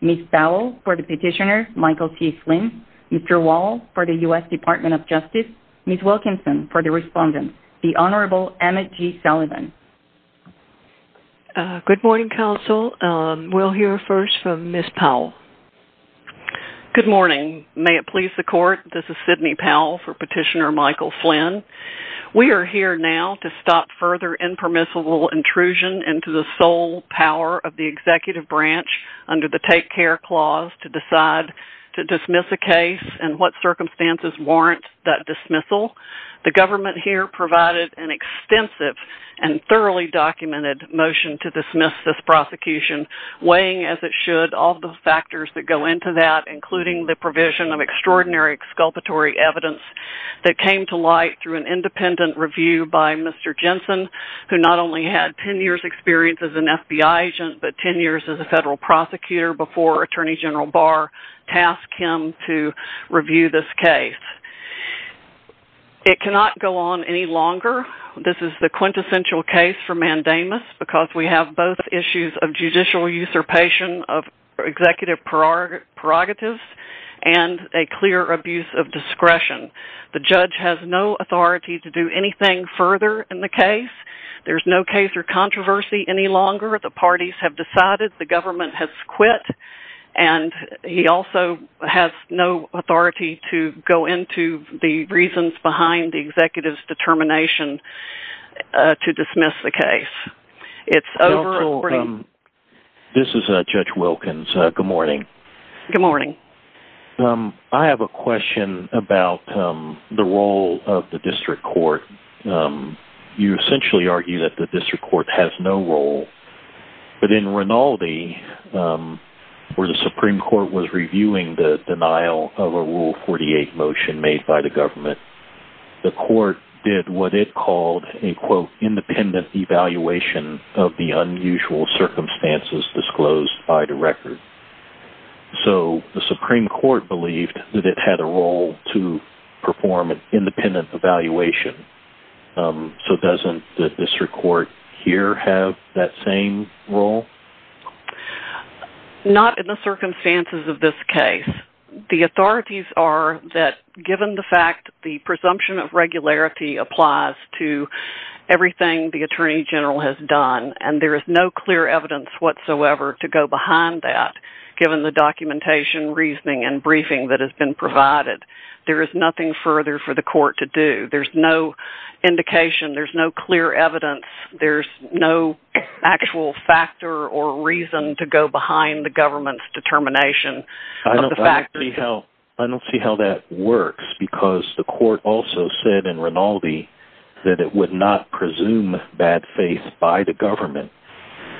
Ms. Powell for the Petitioner, Michael T. Flynn, Mr. Wall for the U.S. Department of Justice, Ms. Wilkinson for the Respondent, the Honorable Emmett G. Sullivan. Good morning, Counsel. We'll hear first from Ms. Powell. Good morning. May it please the Court, this is Sidney Powell for Petitioner, Michael Flynn. We are here now to stop further impermissible intrusion into the sole power of the Executive Branch under the Take Care Clause to decide to dismiss a case and what circumstances warrant that dismissal. The government here provided an extensive and thoroughly documented motion to dismiss this prosecution, weighing as it should all the factors that go into that, including the provision of extraordinary exculpatory evidence that came to light through an independent review by Mr. Jensen, who not only had 10 years' experience as an FBI agent, but 10 years as a federal prosecutor before Attorney General Barr tasked him to review this case. It cannot go on any longer. This is the quintessential case for mandamus because we have both issues of judicial usurpation of executive prerogatives and a clear abuse of discretion. The judge has no authority to do anything further in the case. There's no case or controversy any longer. The parties have decided, the government has quit, and he also has no authority to go into the reasons behind the executive's determination to dismiss the case. This is Judge Wilkins. Good morning. Good morning. I have a question about the role of the district court. You essentially argue that the district court has no role, but in Rinaldi, where the Supreme Court was reviewing the denial of a Rule 48 motion made by the government, the court did what it called an independent evaluation of the unusual circumstances disclosed by the record. So the Supreme Court believed that it had a role to perform an independent evaluation. So doesn't the district court here have that same role? Not in the circumstances of this case. The authorities are that given the fact the presumption of regularity applies to everything the Attorney General has done, and there is no clear evidence whatsoever to go behind that given the documentation, reasoning, and briefing that has been provided. There is nothing further for the court to do. There's no indication, there's no clear evidence, there's no actual factor or reason to go behind the government's determination. I don't see how that works, because the court also said in Rinaldi that it would not presume bad faith by the government.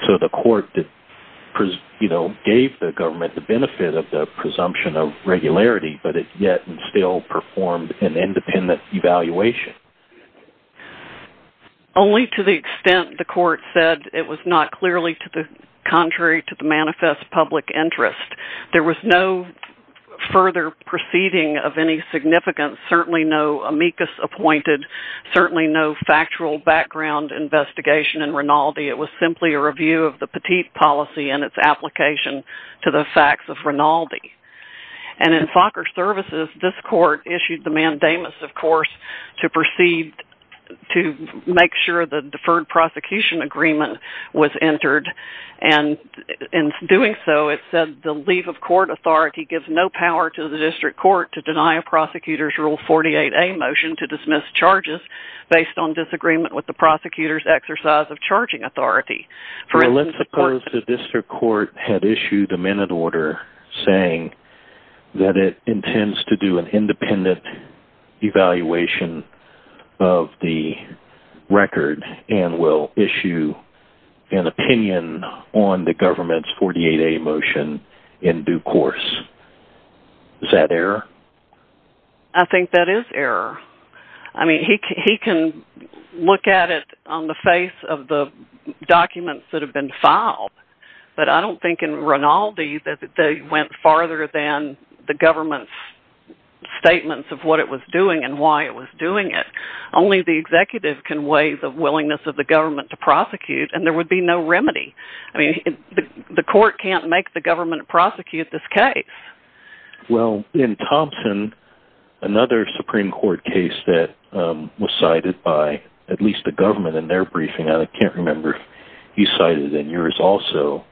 So the court gave the government the benefit of the presumption of regularity, but it yet and still performed an independent evaluation. Only to the extent the court said it was not clearly contrary to the manifest public interest. There was no further proceeding of any significance, certainly no amicus appointed, certainly no factual background investigation in Rinaldi. It was simply a review of the petite policy and its application to the facts of Rinaldi. In Fokker Services, this court issued the mandamus, of course, to make sure the deferred prosecution agreement was entered. In doing so, it said the leave of court authority gives no power to the district court to deny a prosecutor's Rule 48A motion to dismiss charges based on disagreement with the prosecutor's exercise of charging authority. Let's suppose the district court had issued a minute order saying that it intends to do an independent evaluation of the record and will issue an opinion on the government's 48A motion in due course. Is that error? I think that is error. He can look at it on the face of the documents that have been filed, but I don't think in Rinaldi that they went farther than the government's statements of what it was doing and why it was doing it. Only the executive can weigh the willingness of the government to prosecute, and there would be no remedy. The court can't make the government prosecute this case. Well, in Thompson, another Supreme Court case that was cited by at least the government in their briefing, I can't remember if he cited it in yours also,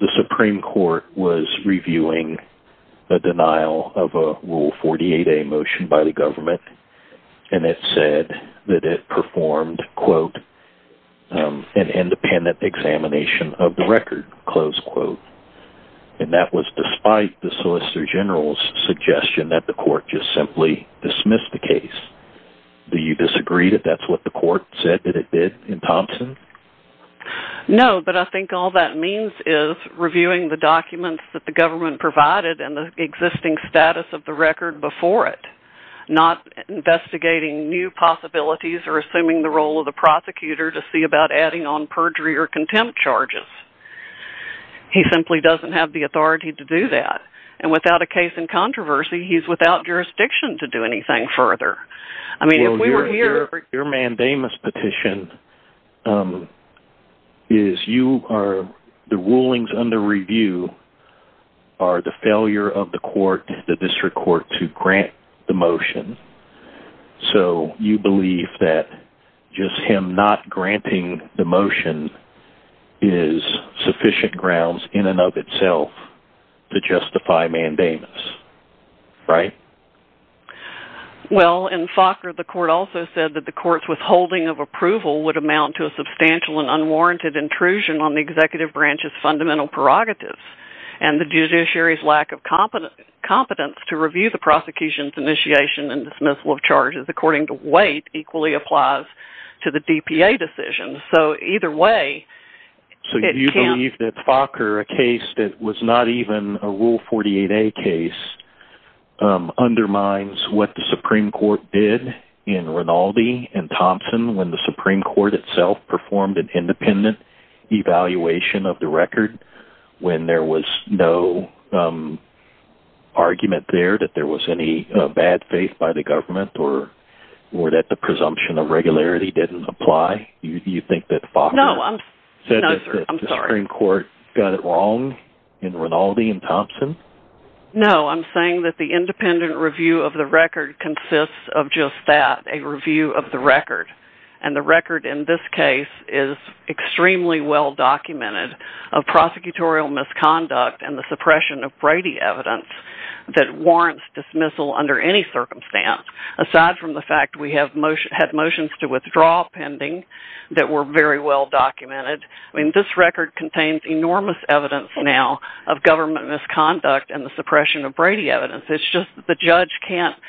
the Supreme Court was reviewing the denial of a Rule 48A motion by the government, and it said that it performed, quote, an independent examination of the record, close quote. And that was despite the Solicitor General's suggestion that the court just simply dismiss the case. Do you disagree that that's what the court said that it did in Thompson? No, but I think all that means is reviewing the documents that the government provided and the existing status of the record before it, not investigating new possibilities or assuming the role of the prosecutor to see about adding on perjury or contempt charges. He simply doesn't have the authority to do that, and without a case in controversy, he's without jurisdiction to do anything further. Your mandamus petition is you are – the rulings under review are the failure of the court, the district court, to grant the motion, so you believe that just him not granting the motion is sufficient grounds in and of itself to justify mandamus, right? Well, in Faulkner, the court also said that the court's withholding of approval would amount to a substantial and unwarranted intrusion on the executive branch's fundamental prerogatives, and the judiciary's lack of competence to review the prosecution's initiation and dismissal of charges according to weight equally applies to the DPA decision, so either way – So you believe that Faulkner, a case that was not even a Rule 48a case, undermines what the Supreme Court did in Rinaldi and Thompson when the Supreme Court itself performed an independent evaluation of the record when there was no argument there that there was any bad faith by the government or that the presumption of regularity didn't apply? Do you think that Faulkner said that the Supreme Court got it wrong in Rinaldi and Thompson? No, I'm saying that the independent review of the record consists of just that – a review of the record. It's just that the judge can't –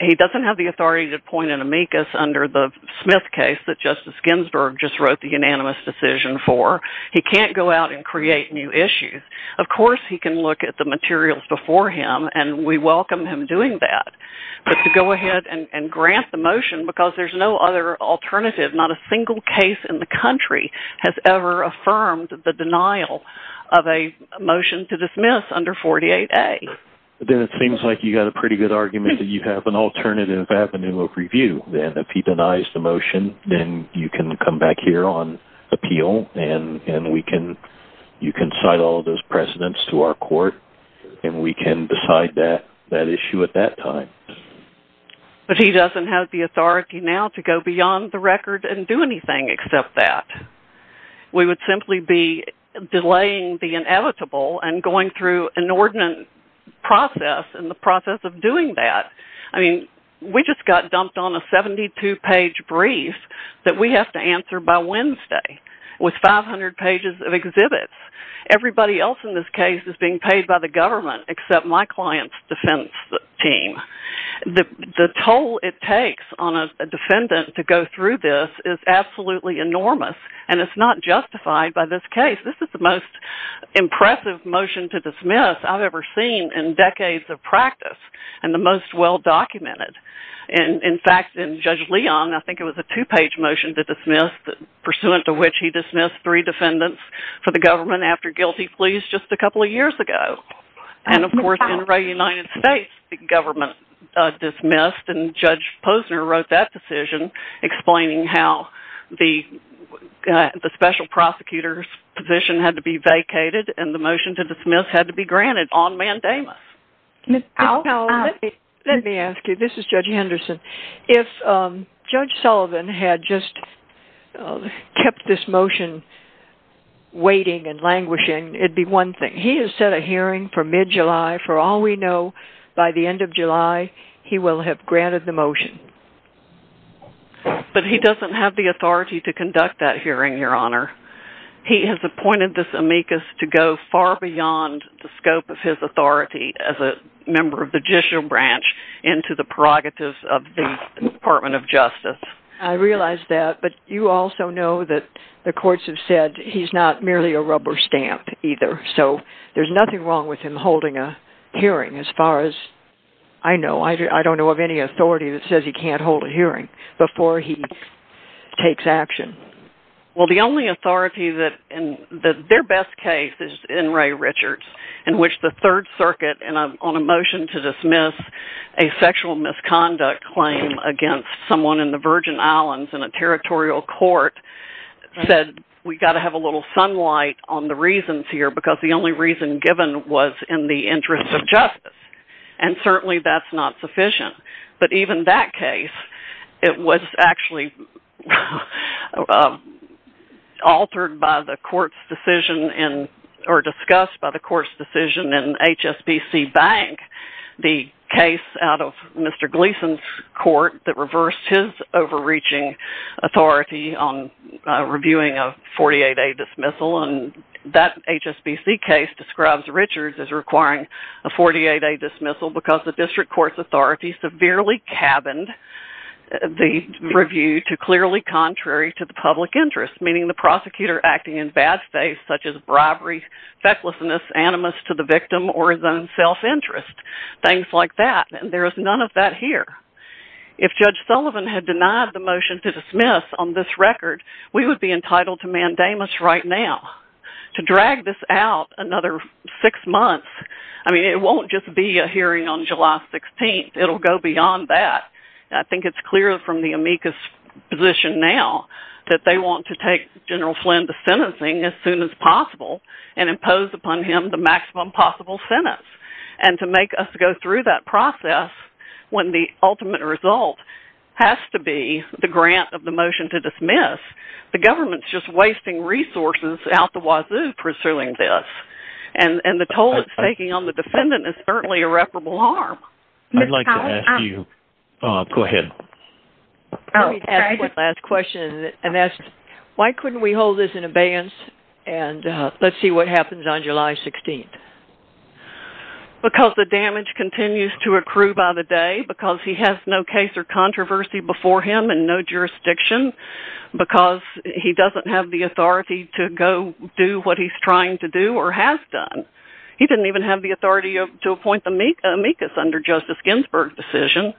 he doesn't have the authority to point an amicus under the Smith case that Justice Ginsburg just wrote the unanimous decision for. He can't go out and create new issues. Of course he can look at the materials before him, and we welcome him doing that, but to go ahead and grant the motion because there's no other alternative – not a single case in the country has ever affirmed the denial of a motion to dismiss under 48a. Then it seems like you've got a pretty good argument that you have an alternative avenue of review. If he denies the motion, then you can come back here on appeal, and you can cite all those precedents to our court, and we can decide that issue at that time. But he doesn't have the authority now to go beyond the record and do anything except that. We would simply be delaying the inevitable and going through an inordinate process in the process of doing that. We just got dumped on a 72-page brief that we have to answer by Wednesday with 500 pages of exhibits. Everybody else in this case is being paid by the government except my client's defense team. The toll it takes on a defendant to go through this is absolutely enormous, and it's not justified by this case. This is the most impressive motion to dismiss I've ever seen in decades of practice and the most well-documented. In fact, in Judge Leon, I think it was a two-page motion to dismiss, pursuant to which he dismissed three defendants for the government after guilty pleas just a couple of years ago. Of course, in the United States, the government dismissed, and Judge Posner wrote that decision explaining how the special prosecutor's position had to be vacated and the motion to dismiss had to be granted on mandamus. Ms. Powell, let me ask you. This is Judge Henderson. If Judge Sullivan had just kept this motion waiting and languishing, it'd be one thing. He has set a hearing for mid-July. For all we know, by the end of July, he will have granted the motion. But he doesn't have the authority to conduct that hearing, Your Honor. He has appointed this amicus to go far beyond the scope of his authority as a member of the judicial branch into the prerogatives of the Department of Justice. I realize that, but you also know that the courts have said he's not merely a rubber stamp either, so there's nothing wrong with him holding a hearing as far as I know. I don't know of any authority that says he can't hold a hearing before he takes action. Well, the only authority that – their best case is in Ray Richards, in which the Third Circuit, on a motion to dismiss a sexual misconduct claim against someone in the Virgin Islands in a territorial court, said we've got to have a little sunlight on the reasons here because the only reason given was in the interest of justice. And certainly that's not sufficient. But even that case, it was actually altered by the court's decision in – or discussed by the court's decision in HSBC Bank, the case out of Mr. Gleason's court that reversed his overreaching authority on reviewing a 48-day dismissal. And that HSBC case describes Richards as requiring a 48-day dismissal because the district court's authority severely cabined the review to clearly contrary to the public interest, meaning the prosecutor acting in bad faith, such as bribery, fecklessness, animus to the victim, or his own self-interest, things like that. If Judge Sullivan had denied the motion to dismiss on this record, we would be entitled to mandamus right now. To drag this out another six months – I mean, it won't just be a hearing on July 16th. It'll go beyond that. I think it's clear from the amicus position now that they want to take General Flynn to sentencing as soon as possible and impose upon him the maximum possible sentence. And to make us go through that process when the ultimate result has to be the grant of the motion to dismiss, the government's just wasting resources out the wazoo pursuing this. And the toll it's taking on the defendant is certainly irreparable harm. I'd like to ask you – go ahead. Let me ask one last question and ask, why couldn't we hold this in abeyance and let's see what happens on July 16th? Because the damage continues to accrue by the day, because he has no case or controversy before him and no jurisdiction, because he doesn't have the authority to go do what he's trying to do or has done. He didn't even have the authority to appoint the amicus under Joseph Ginsburg's decision.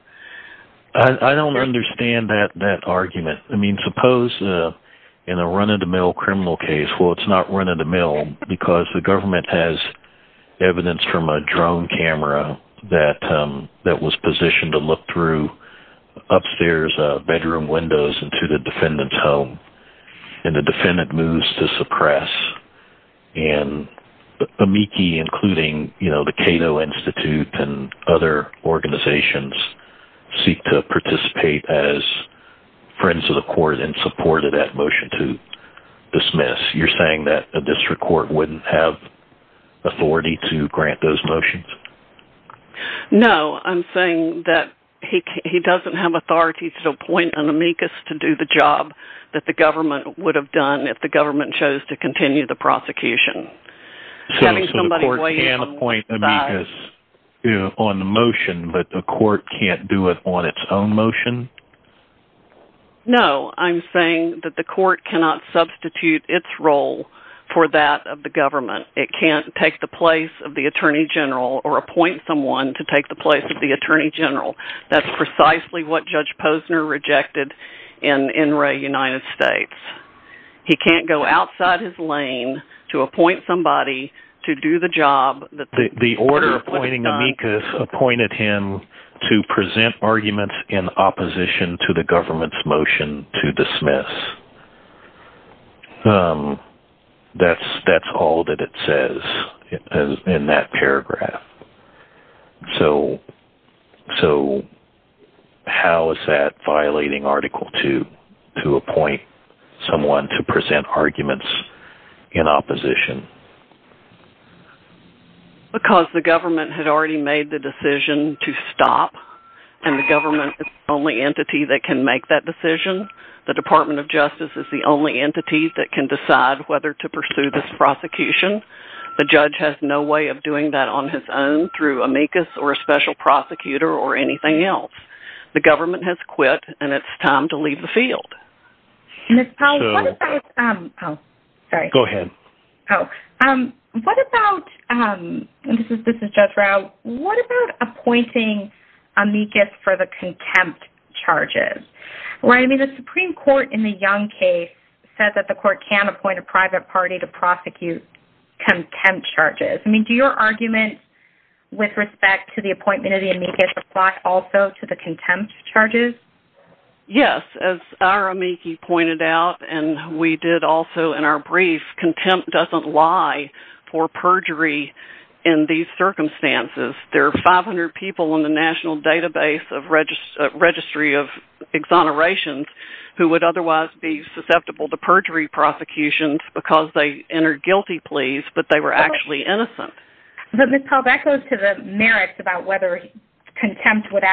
I don't understand that argument. I mean, suppose in a run-of-the-mill criminal case – well, it's not run-of-the-mill because the government has evidence from a drone camera that was positioned to look through upstairs bedroom windows into the defendant's home. And the defendant moves to suppress. And AMICI, including the Cato Institute and other organizations, seek to participate as friends of the court in support of that motion to dismiss. You're saying that a district court wouldn't have authority to grant those motions? No, I'm saying that he doesn't have authority to appoint an amicus to do the job that the government would have done if the government chose to continue the prosecution. So the court can appoint an amicus on the motion, but the court can't do it on its own motion? No, I'm saying that the court cannot substitute its role for that of the government. It can't take the place of the attorney general or appoint someone to take the place of the attorney general. That's precisely what Judge Posner rejected in Wray United States. He can't go outside his lane to appoint somebody to do the job that the government would have done. The amicus appointed him to present arguments in opposition to the government's motion to dismiss. That's all that it says in that paragraph. So how is that violating Article 2 to appoint someone to present arguments in opposition? Because the government had already made the decision to stop, and the government is the only entity that can make that decision. The Department of Justice is the only entity that can decide whether to pursue this prosecution. The judge has no way of doing that on his own through amicus or a special prosecutor or anything else. The government has quit, and it's time to leave the field. Ms. Powell, what about appointing amicus for the contempt charges? The Supreme Court in the Young case said that the court can't appoint a private party to prosecute contempt charges. Do your arguments with respect to the appointment of the amicus apply also to the contempt charges? Yes. As our amicus pointed out, and we did also in our brief, contempt doesn't lie for perjury in these circumstances. There are 500 people in the National Database of Registry of Exonerations who would otherwise be susceptible to perjury prosecutions because they entered guilty pleas, but they were actually innocent. Ms. Powell, that goes to the merits about whether contempt could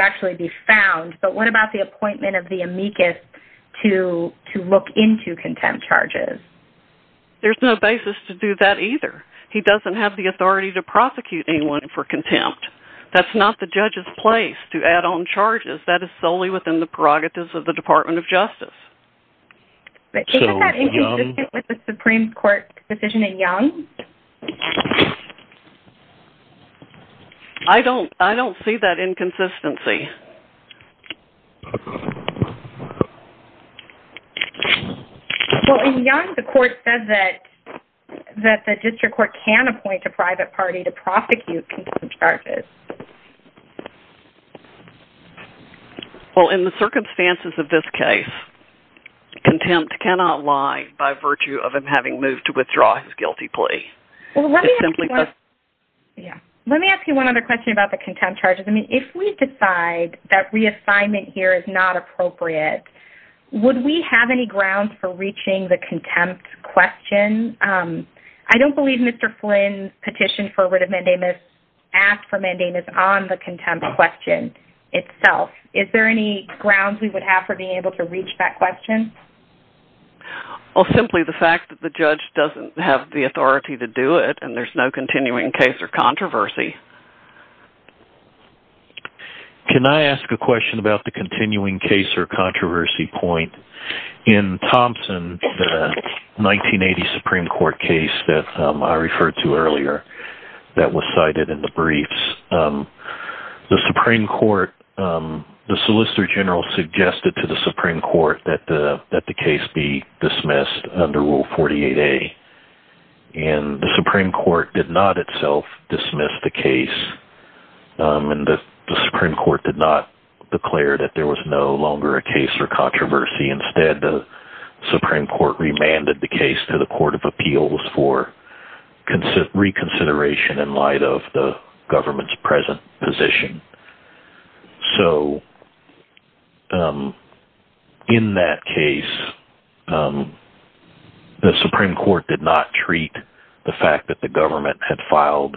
actually be found, but what about the appointment of the amicus to look into contempt charges? There's no basis to do that either. He doesn't have the authority to prosecute anyone for contempt. That's not the judge's place to add on charges. That is solely within the prerogatives of the Department of Justice. Is that inconsistent with the Supreme Court decision in Young? I don't see that inconsistency. In Young, the court said that the district court can appoint a private party to prosecute contempt charges. Well, in the circumstances of this case, contempt cannot lie by virtue of him having moved to withdraw his guilty plea. Let me ask you one other question about the contempt charges. If we decide that reassignment here is not appropriate, would we have any grounds for reaching the contempt question? I don't believe Mr. Flynn petitioned for or asked for mandamus on the contempt question itself. Is there any grounds we would have for being able to reach that question? Simply the fact that the judge doesn't have the authority to do it, and there's no continuing case or controversy. Can I ask a question about the continuing case or controversy point? In Thompson, the 1980 Supreme Court case that I referred to earlier that was cited in the briefs, the Solicitor General suggested to the Supreme Court that the case be dismissed under Rule 48A. The Supreme Court did not itself dismiss the case, and the Supreme Court did not declare that there was no longer a case for controversy. Instead, the Supreme Court remanded the case to the Court of Appeals for reconsideration in light of the government's present position. In that case, the Supreme Court did not treat the fact that the government had filed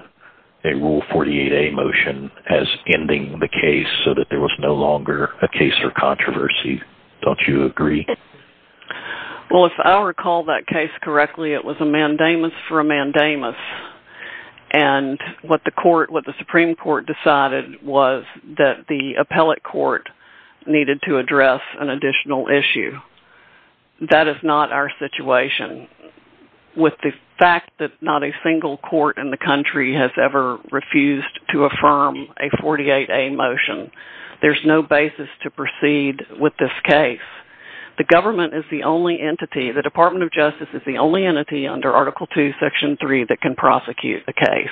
a Rule 48A motion as ending the case so that there was no longer a case for controversy. Don't you agree? If I recall that case correctly, it was a mandamus for a mandamus, and what the Supreme Court decided was that the appellate court needed to address an additional issue. That is not our situation. With the fact that not a single court in the country has ever refused to affirm a 48A motion, there's no basis to proceed with this case. The Department of Justice is the only entity under Article II, Section 3 that can prosecute the case,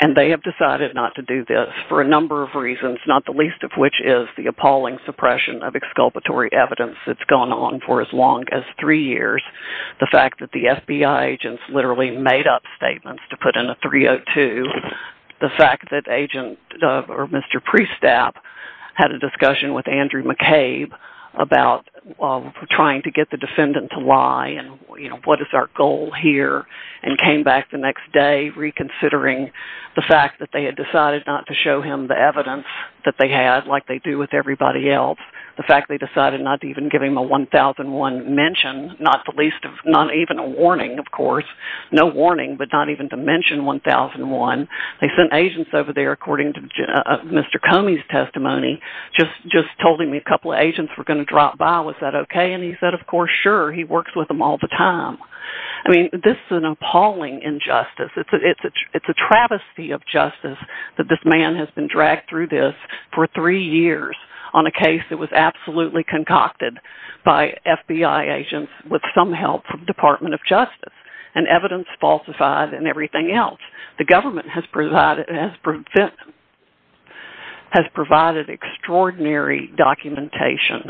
and they have decided not to do this for a number of reasons, not the least of which is the appalling suppression of exculpatory evidence that's gone on for as long as three years. The fact that the FBI agents literally made up statements to put in a 302. The fact that Mr. Priestap had a discussion with Andrew McCabe about trying to get the defendant to lie and what is our goal here, and came back the next day reconsidering the fact that they had decided not to show him the evidence that they had like they do with everybody else. The fact they decided not to even give him a 1001 mention, not even a warning, of course. No warning, but not even to mention 1001. They sent agents over there, according to Mr. Comey's testimony, just told him a couple of agents were going to drop by. Was that okay? And he said, of course, sure. He works with them all the time. I mean, this is an appalling injustice. It's a travesty of justice that this man has been dragged through this for three years on a case that was absolutely concocted by FBI agents with some help from the Department of Justice and evidence falsified and everything else. The government has provided extraordinary documentation,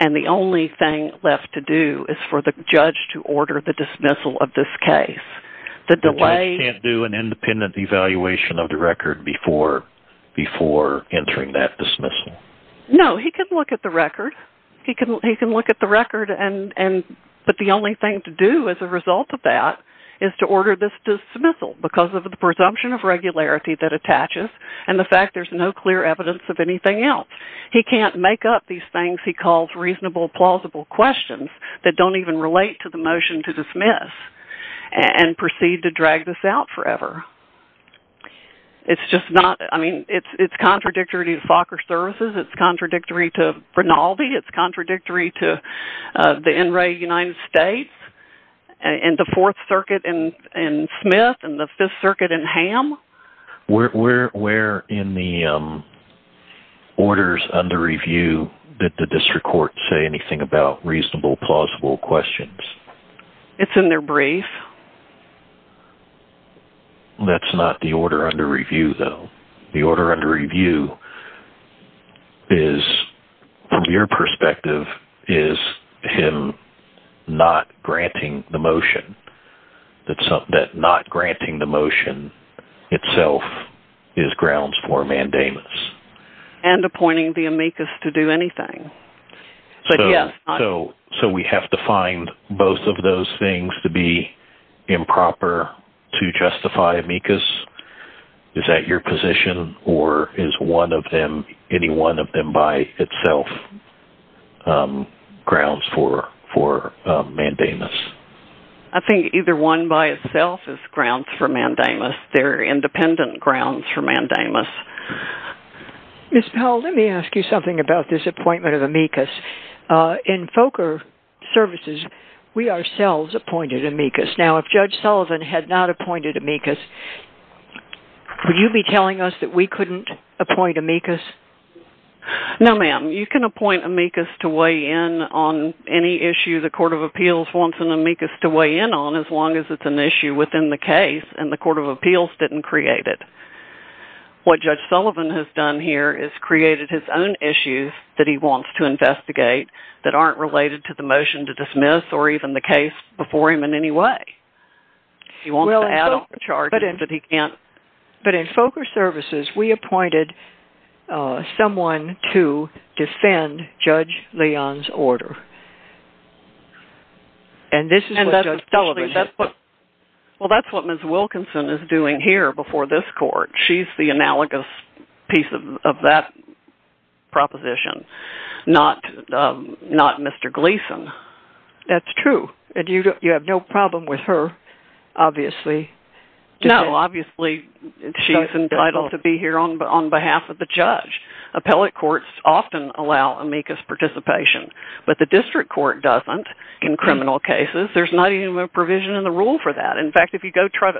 and the only thing left to do is for the judge to order the dismissal of this case. The judge can't do an independent evaluation of the record before entering that dismissal? No, he can look at the record, but the only thing to do as a result of that is to order this dismissal because of the presumption of regularity that attaches and the fact there's no clear evidence of anything else. He can't make up these things he calls reasonable, plausible questions that don't even relate to the motion to dismiss and proceed to drag this out forever. It's just not – I mean, it's contradictory to Fokker Services. It's contradictory to Bernaldi. It's contradictory to the NRA United States and the Fourth Circuit in Smith and the Fifth Circuit in Ham. Where in the orders under review did the district court say anything about reasonable, plausible questions? It's in their brief. That's not the order under review, though. The order under review is, from your perspective, is him not granting the motion. That not granting the motion itself is grounds for mandamus. And appointing the amicus to do anything. So we have to find both of those things to be improper to justify amicus? Is that your position, or is any one of them by itself grounds for mandamus? I think either one by itself is grounds for mandamus. They're independent grounds for mandamus. Ms. Powell, let me ask you something about this appointment of amicus. In Fokker Services, we ourselves appointed amicus. Now, if Judge Sullivan had not appointed amicus, would you be telling us that we couldn't appoint amicus? No, ma'am. You can appoint amicus to weigh in on any issue the Court of Appeals wants an amicus to weigh in on, as long as it's an issue within the case and the Court of Appeals didn't create it. What Judge Sullivan has done here is created his own issues that he wants to investigate that aren't related to the motion to dismiss or even the case before him in any way. But in Fokker Services, we appointed someone to defend Judge Leon's order. Well, that's what Ms. Wilkinson is doing here before this Court. She's the analogous piece of that proposition, not Mr. Gleeson. That's true. You have no problem with her, obviously. No, obviously she's entitled to be here on behalf of the judge. Appellate courts often allow amicus participation, but the district court doesn't in criminal cases. There's not even a provision in the rule for that. In fact, if you go try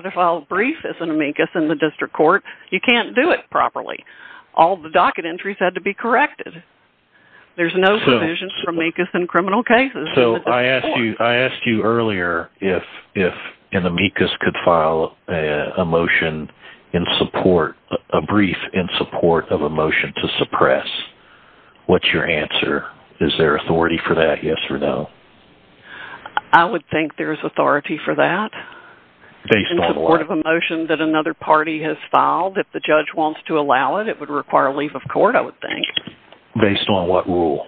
to file a brief as an amicus in the district court, you can't do it properly. All the docket entries had to be corrected. There's no provisions for amicus in criminal cases. I asked you earlier if an amicus could file a brief in support of a motion to suppress. What's your answer? Is there authority for that, yes or no? I would think there's authority for that. Based on what? In support of a motion that another party has filed. If the judge wants to allow it, it would require a leave of court, I would think. Based on what rule?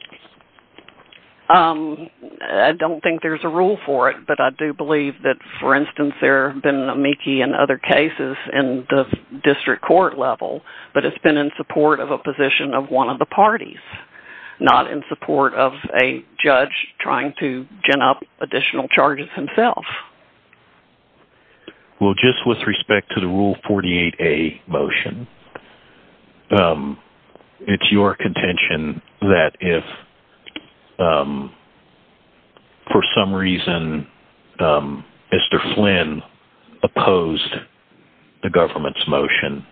I don't think there's a rule for it, but I do believe that, for instance, there have been amicus in other cases in the district court level, but it's been in support of a position of one of the parties, not in support of a judge trying to gin up additional charges himself. Well, just with respect to the Rule 48A motion, it's your contention that if, for some reason, Mr. Flynn opposed the government's motion,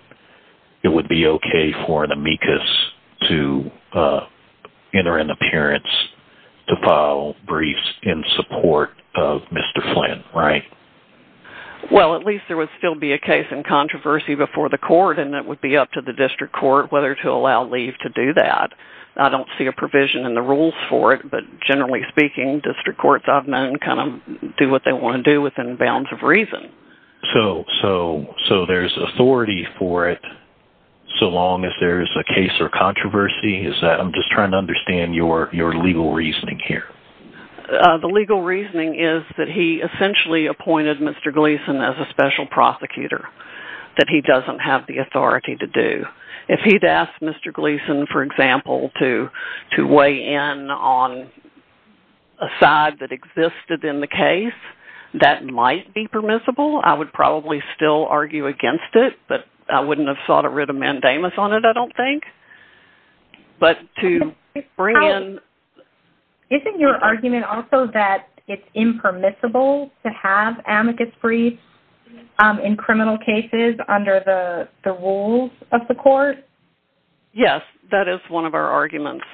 it would be okay for an amicus to enter an appearance to file briefs in support of Mr. Flynn. Well, at least there would still be a case in controversy before the court, and it would be up to the district court whether to allow leave to do that. I don't see a provision in the rules for it, but generally speaking, district courts, I've known, do what they want to do within bounds of reason. So there's authority for it, so long as there's a case or controversy? I'm just trying to understand your legal reasoning here. The legal reasoning is that he essentially appointed Mr. Gleason as a special prosecutor, that he doesn't have the authority to do. If he'd asked Mr. Gleason, for example, to weigh in on a side that existed in the case, that might be permissible. I would probably still argue against it, but I wouldn't have sought a writ of mandamus on it, I don't think. Isn't your argument also that it's impermissible to have amicus briefs in criminal cases under the rules of the court? Yes, that is one of our arguments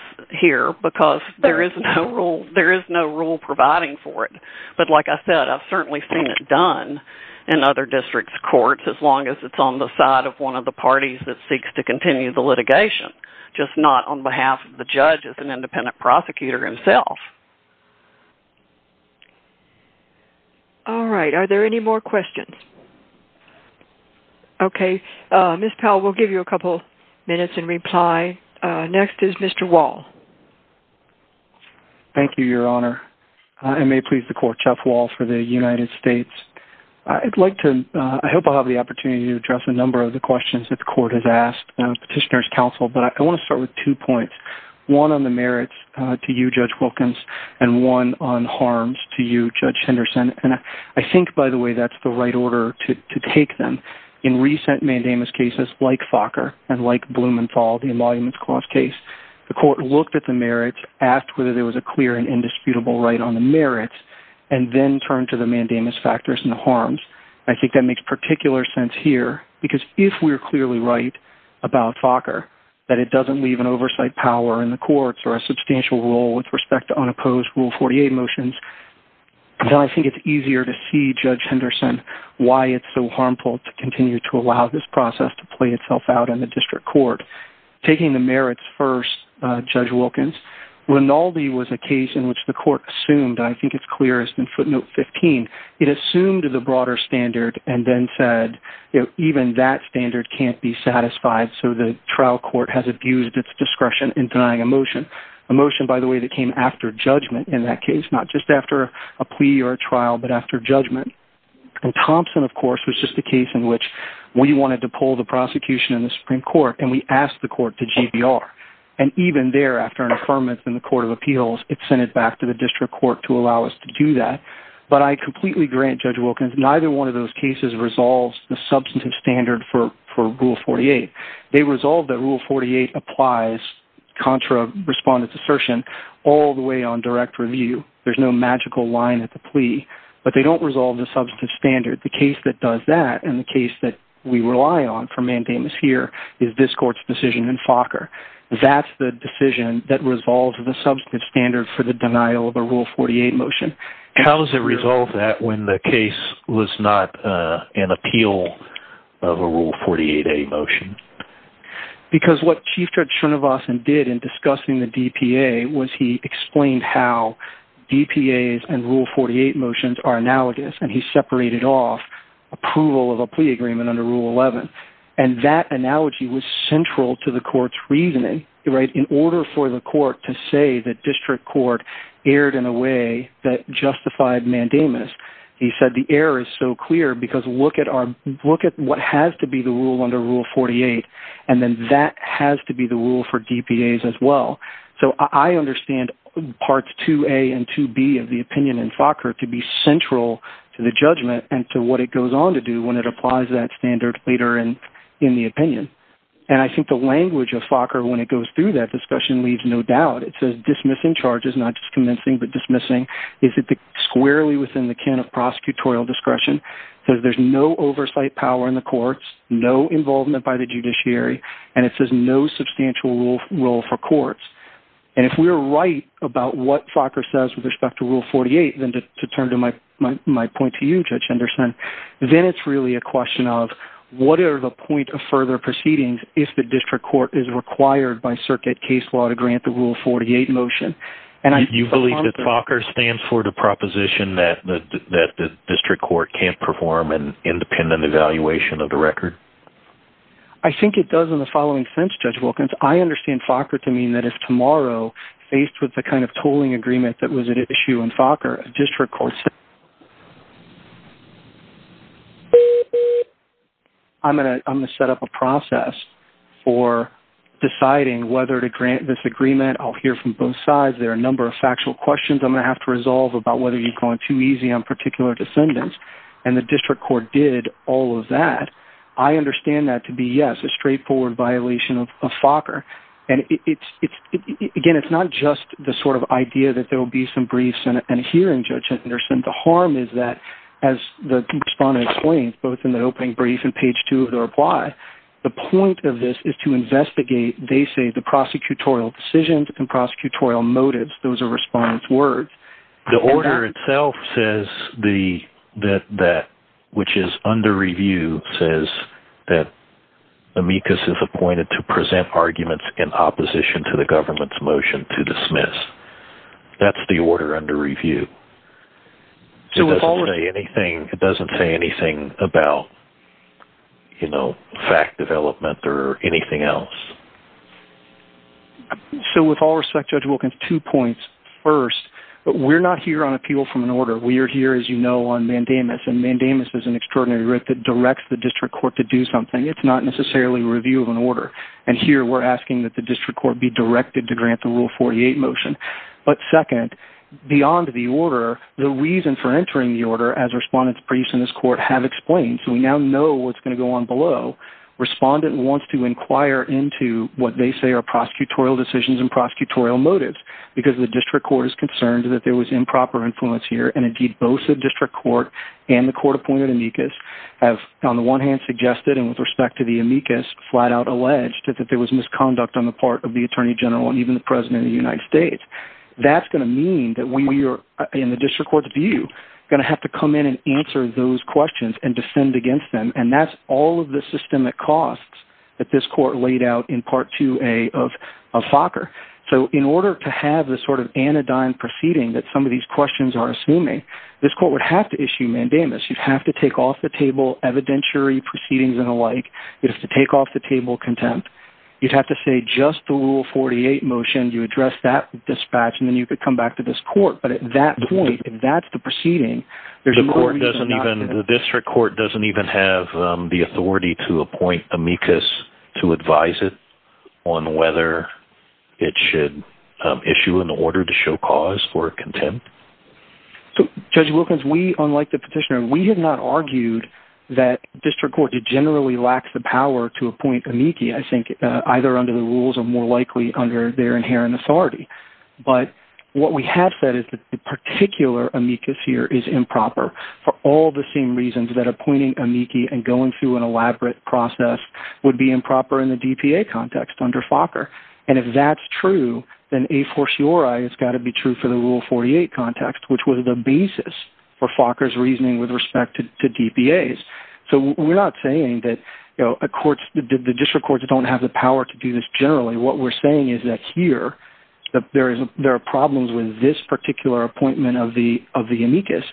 here, because there is no rule providing for it. But like I said, I've certainly seen it done in other district courts, as long as it's on the side of one of the parties that seeks to continue the litigation, just not on behalf of the judge as an independent prosecutor himself. All right, are there any more questions? Okay, Ms. Powell, we'll give you a couple minutes in reply. Next is Mr. Wall. Thank you, Your Honor. I may appreciate the court. Jeff Wall for the United States. I hope I'll have the opportunity to address a number of the questions that the court has asked as petitioner's counsel, but I want to start with two points. One on the merits to you, Judge Wilkins, and one on harms to you, Judge Henderson. I think, by the way, that's the right order to take them. In recent mandamus cases like Fokker and like Blumenthal, the Emoluments Clause case, the court looked at the merits, asked whether there was a clear and indisputable right on the merits, and then turned to the mandamus factors and harms. I think that makes particular sense here, because if we're clearly right about Fokker, that it doesn't leave an oversight power in the courts or a substantial role with respect to unopposed Rule 48 motions, then I think it's easier to see, Judge Henderson, why it's so harmful to continue to allow this process to play itself out in the district court. Taking the merits first, Judge Wilkins, Rinaldi was a case in which the court assumed, and I think it's clear as in footnote 15, it assumed the broader standard and then said, even that standard can't be satisfied, so the trial court has abused its discretion in denying a motion. A motion, by the way, that came after judgment in that case, not just after a plea or a trial, but after judgment. Thompson, of course, was just a case in which we wanted to pull the prosecution in the Supreme Court, and we asked the court to GBR. And even thereafter, an affirmance in the Court of Appeals, it sent it back to the district court to allow us to do that. But I completely grant Judge Wilkins, neither one of those cases resolves the substantive standard for Rule 48. They resolve that Rule 48 applies contra respondent's assertion all the way on direct review. There's no magical line at the plea, but they don't resolve the substantive standard. The case that does that, and the case that we rely on for mandamus here, is this court's decision in Fokker. That's the decision that resolves the substantive standard for the denial of a Rule 48 motion. How does it resolve that when the case was not an appeal of a Rule 48a motion? Because what Chief Judge Srinivasan did in discussing the DPA was he explained how DPAs and Rule 48 motions are analogous, and he separated off approval of a plea agreement under Rule 11. And that analogy was central to the court's reasoning. In order for the court to say that district court erred in a way that justified mandamus, he said the error is so clear because look at what has to be the rule under Rule 48, and then that has to be the rule for DPAs as well. So I understand Parts 2a and 2b of the opinion in Fokker to be central to the judgment and to what it goes on to do when it applies that standard later in the opinion. And I think the language of Fokker when it goes through that discussion leaves no doubt. It says dismissing charges, not just convincing, but dismissing. Is it squarely within the can of prosecutorial discretion? It says there's no oversight power in the courts, no involvement by the judiciary, and it says no substantial role for courts. And if we're right about what Fokker says with respect to Rule 48, then to turn to my point to you, Judge Henderson, then it's really a question of what are the point of further proceedings if the district court is required by circuit case law to grant the Rule 48 motion. Do you believe that Fokker stands for the proposition that the district court can't perform an independent evaluation of the record? I think it does in the following sense, Judge Wilkins. I understand Fokker to mean that if tomorrow, faced with the kind of tolling agreement that was at issue in Fokker, I'm going to set up a process for deciding whether to grant this agreement. I'll hear from both sides. There are a number of factual questions I'm going to have to resolve about whether he's going too easy on particular descendants, and the district court did all of that. I understand that to be, yes, a straightforward violation of Fokker. And, again, it's not just the sort of idea that there will be some briefs and hearing, Judge Henderson. The harm is that, as the respondent explained, both in the opening brief and page two of the reply, the point of this is to investigate, they say, the prosecutorial decisions and prosecutorial motives. Those are respondent's words. The order itself says that, which is under review, says that amicus is appointed to present arguments in opposition to the government's motion to dismiss. That's the order under review. It doesn't say anything about fact development or anything else. So, with all respect, Judge Wilkins, two points. First, we're not here on appeal from an order. We are here, as you know, on mandamus, and mandamus is an extraordinary writ that directs the district court to do something. It's not necessarily a review of an order, and here we're asking that the district court be directed to grant the Rule 48 motion. But, second, beyond the order, the reason for entering the order, as respondent's briefs in this court have explained, so we now know what's going to go on below, respondent wants to inquire into what they say are prosecutorial decisions and prosecutorial motives, because the district court is concerned that there was improper influence here, and, indeed, both the district court and the court appointed amicus have, on the one hand, suggested, and with respect to the amicus, flat out alleged that there was misconduct on the part of the Attorney General and even the President of the United States. That's going to mean that we are, in the district court's view, going to have to come in and answer those questions and defend against them, and that's all of the systemic costs that this court laid out in Part 2A of FOCR. So, in order to have this sort of anodyne proceeding that some of these questions are assuming, this court would have to issue mandamus. You'd have to take off the table evidentiary proceedings and the like. You'd have to take off the table contempt. You'd have to say just the Rule 48 motion. You address that with dispatch, and then you could come back to this court. But at that point, if that's the proceeding, there's no reason not to have it. The district court doesn't even have the authority to appoint amicus to advise it on whether it should issue an order to show cause for contempt? So, Judge Wilkins, we, unlike the petitioner, we have not argued that district courts generally lack the power to appoint amicus. I think either under the rules or more likely under their inherent authority. But what we have said is that the particular amicus here is improper for all the same reasons that appointing amicus and going through an elaborate process would be improper in the DPA context under FOCR. And if that's true, then a fortiori it's got to be true for the Rule 48 context, which was the basis for FOCR's reasoning with respect to DPAs. So we're not saying that the district courts don't have the power to do this generally. What we're saying is that here, that there are problems with this particular appointment of the amicus.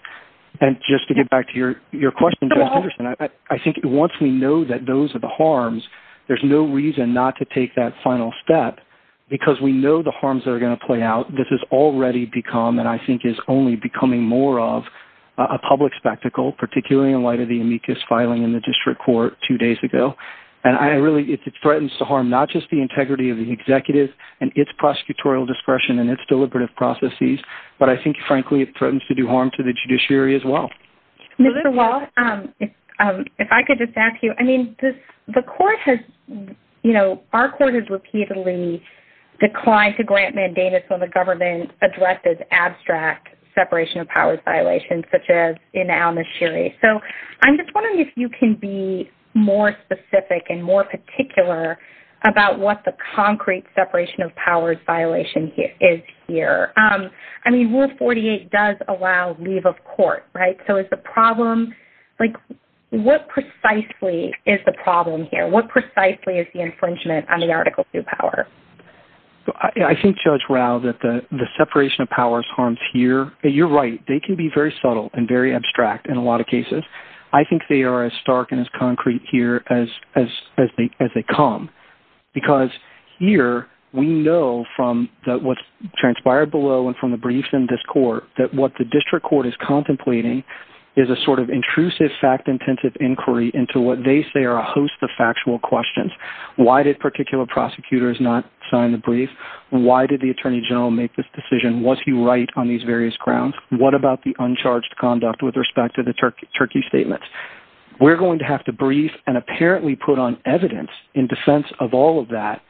And just to get back to your question, Judge Henderson, I think once we know that those are the harms, there's no reason not to take that final step because we know the harms that are going to play out. This has already become, and I think is only becoming more of, a public spectacle, particularly in light of the amicus filing in the district court two days ago. And I really, it threatens to harm not just the integrity of the executive and its prosecutorial discretion and its deliberative processes, but I think, frankly, it threatens to do harm to the judiciary as well. Mr. Walsh, if I could just ask you, I mean, the court has, you know, our court has repeatedly declined to grant mandators when the government addresses abstract separation of powers violations such as in Al-Nashiri. So I'm just wondering if you can be more specific and more particular about what the concrete separation of powers violation is here. I mean, Rule 48 does allow leave of court, right? So is the problem, like, what precisely is the problem here? What precisely is the infringement under Article II power? I think, Judge Rao, that the separation of powers harms here, you're right, they can be very subtle and very abstract in a lot of cases. I think they are as stark and as concrete here as they come. Because here we know from what's transpired below and from the brief in this court that what the district court is contemplating is a sort of intrusive, fact-intensive inquiry into what they say are a host of factual questions. Why did particular prosecutors not sign the brief? Why did the attorney general make this decision? Was he right on these various grounds? What about the uncharged conduct with respect to the Turkey statements? We're going to have to brief and apparently put on evidence in defense of all of that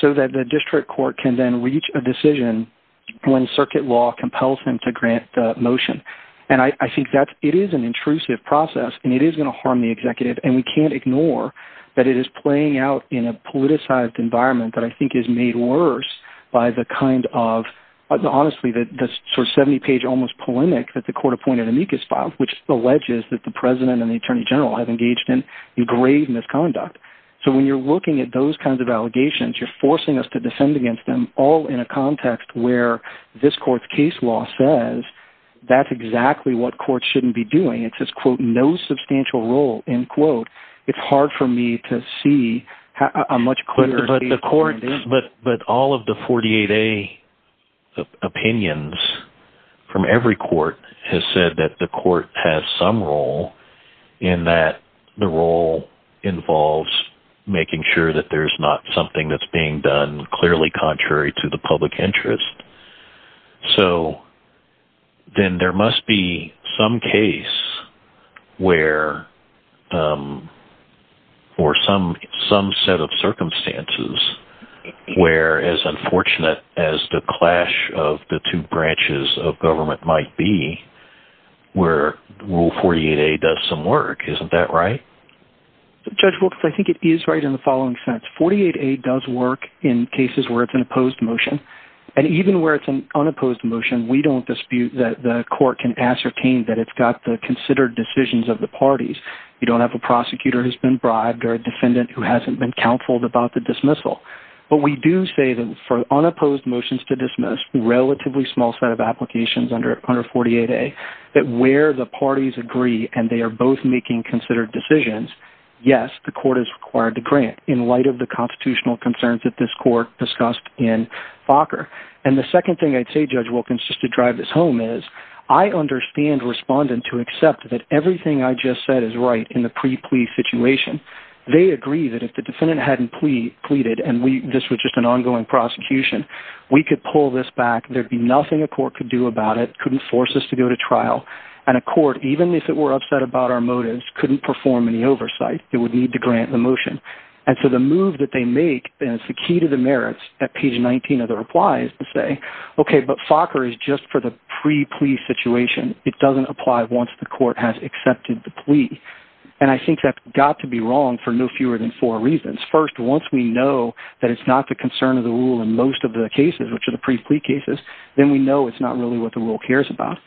so that the district court can then reach a decision when circuit law compels them to grant motion. And I think that it is an intrusive process and it is going to harm the executive and we can't ignore that it is playing out in a politicized environment that I think is made worse by the kind of, honestly, the sort of 70-page almost polemic that the court appointed amicus file, which alleges that the president and the attorney general have engaged in grave misconduct. So when you're looking at those kinds of allegations, you're forcing us to descend against them all in a context where this court's case law says that's exactly what courts shouldn't be doing. It says, quote, no substantial role, end quote. It's hard for me to see a much clearer... But all of the 48A opinions from every court has said that the court has some role in that the role involves making sure that there's not something that's being done clearly contrary to the public interest. So then there must be some case where or some set of circumstances where as unfortunate as the clash of the two branches of government might be, where Rule 48A does some work. Isn't that right? Judge Wilkes, I think it is right in the following sense. 48A does work in cases where it's an opposed motion. And even where it's an unopposed motion, we don't dispute that the court can ascertain that it's got the considered decisions of the parties. You don't have a prosecutor who's been bribed or a defendant who hasn't been counseled about the dismissal. But we do say that for unopposed motions to dismiss, relatively small set of applications under 48A, that where the parties agree and they are both making considered decisions, yes, the court is required to grant in light of the constitutional concerns that this court discussed in Fokker. And the second thing I'd say, Judge Wilkes, just to drive this home is, I understand respondents who accept that everything I just said is right in the pre-plea situation. They agree that if the defendant hadn't pleaded and this was just an ongoing prosecution, we could pull this back, there'd be nothing a court could do about it, couldn't force us to go to trial, and a court, even if it were upset about our motives, couldn't perform any oversight. It would need to grant the motion. And so the move that they make, and it's the key to the merits, at page 19 of the reply is to say, okay, but Fokker is just for the pre-plea situation. It doesn't apply once the court has accepted the plea. And I think that's got to be wrong for no fewer than four reasons. First, once we know that it's not the concern of the rule in most of the cases, which are the pre-plea cases, then we know it's not really what the rule cares about.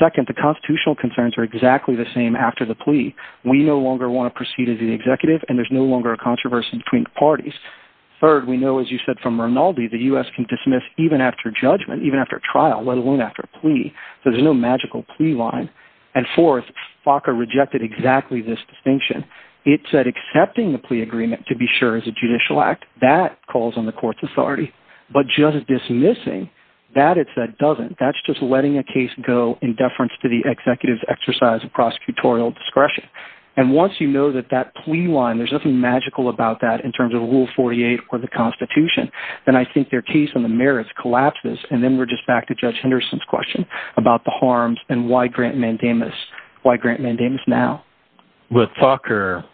Second, the constitutional concerns are exactly the same after the plea. We no longer want to proceed as the executive and there's no longer a controversy between the parties. Third, we know, as you said from Rinaldi, the U.S. can dismiss even after judgment, even after trial, let alone after a plea. So there's no magical plea line. And fourth, Fokker rejected exactly this distinction. It said accepting the plea agreement to be sure is a judicial act. That calls on the court's authority. But just dismissing, that it said doesn't. That's just letting a case go in deference to the executive's exercise of prosecutorial discretion. And once you know that that plea line, there's nothing magical about that in terms of Rule 48 for the Constitution, then I think their case on the merits collapses. And then we're just back to Judge Henderson's question about the harms and why Grant Mandamus, why Grant Mandamus now. But Fokker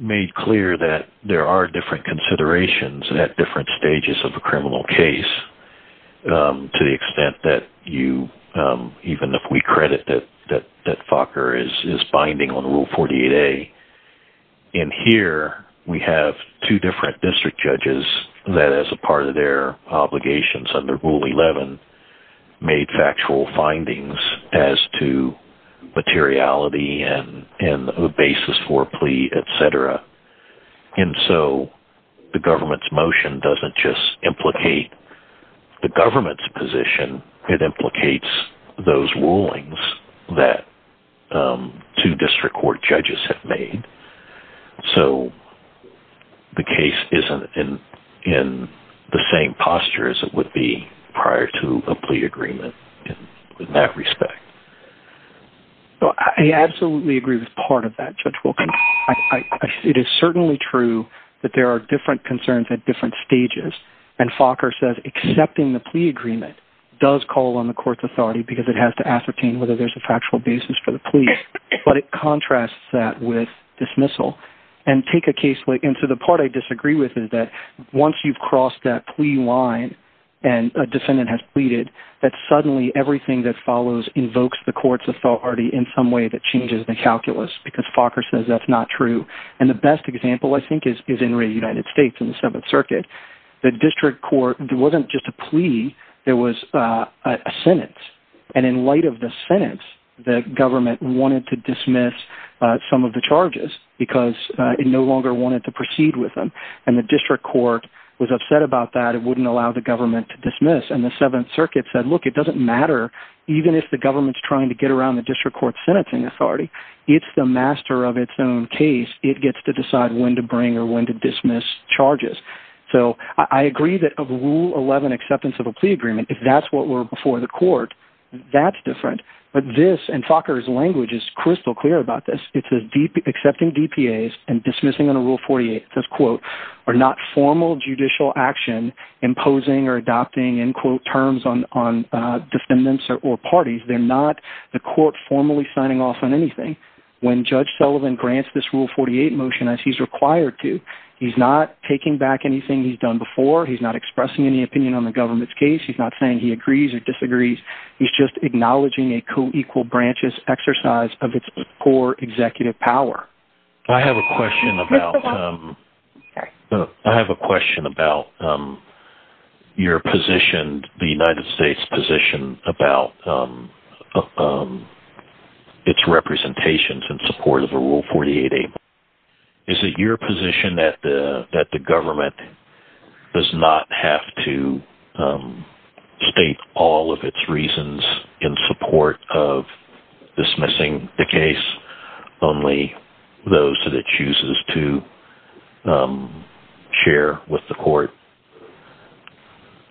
made clear that there are different considerations at different stages of a criminal case to the extent that you, even if we credit that Fokker is binding on Rule 48A. And here we have two different district judges that as a part of their obligations under Rule 11 made factual findings as to materiality and the basis for a plea, et cetera. And so the government's motion doesn't just implicate the government's position. It implicates those rulings that two district court judges have made. So the case isn't in the same posture as it would be prior to a plea agreement in that respect. I absolutely agree with part of that, Judge Wilkins. It is certainly true that there are different concerns at different stages. And Fokker says accepting the plea agreement does call on the court's authority because it has to ascertain whether there's a factual basis for the plea. But it contrasts that with dismissal. And to the part I disagree with is that once you've crossed that plea line and a defendant has pleaded, that suddenly everything that follows invokes the court's authority in some way that changes the calculus because Fokker says that's not true. And the best example I think is in the United States in the Seventh Circuit. The district court wasn't just a plea. It was a sentence. And in light of the sentence, the government wanted to dismiss some of the charges because it no longer wanted to proceed with them. And the district court was upset about that. It wouldn't allow the government to dismiss. And the Seventh Circuit said, look, it doesn't matter even if the government's trying to get around the district court's sentencing authority. It's the master of its own case. It gets to decide when to bring or when to dismiss charges. So I agree that a Rule 11 acceptance of a plea agreement, if that's what we're before the court, that's different. But this, and Fokker's language is crystal clear about this. It says accepting DPAs and dismissing under Rule 48, it says, quote, are not formal judicial action imposing or adopting, end quote, terms on defendants or parties. They're not the court formally signing off on anything. When Judge Sullivan grants this Rule 48 motion as he's required to, he's not taking back anything he's done before. He's not expressing any opinion on the government's case. He's not saying he agrees or disagrees. He's just acknowledging a co-equal branches exercise of its core executive power. I have a question about your position, the United States position, about its representations in support of a Rule 48. Is it your position that the government does not have to state all of its reasons in support of dismissing the case, only those that it chooses to share with the court?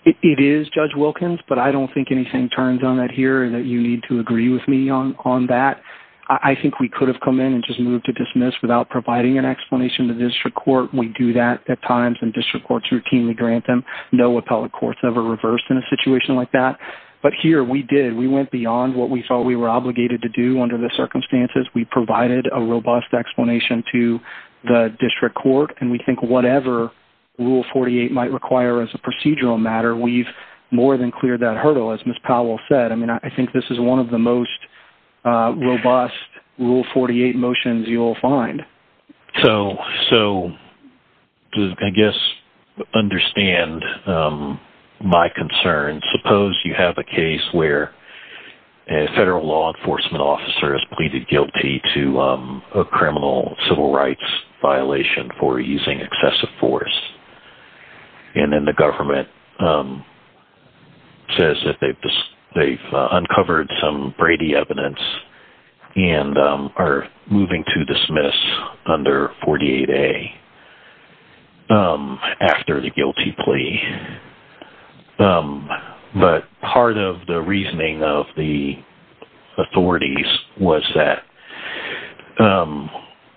It is, Judge Wilkins, but I don't think anything turns on it here that you need to agree with me on that. I think we could have come in and just moved to dismiss without providing an explanation to district court. We do that at times, and district courts routinely grant them. No appellate court's ever reversed in a situation like that. But here, we did. We went beyond what we thought we were obligated to do under the circumstances. We provided a robust explanation to the district court, and we think whatever Rule 48 might require as a procedural matter, we've more than cleared that hurdle, as Ms. Powell said. I think this is one of the most robust Rule 48 motions you will find. So to, I guess, understand my concerns, suppose you have a case where a federal law enforcement officer is pleaded guilty to a criminal civil rights violation for using excessive force, and then the government says that they've uncovered some Brady evidence and are moving to dismiss under 48A after the guilty plea. But part of the reasoning of the authorities was that,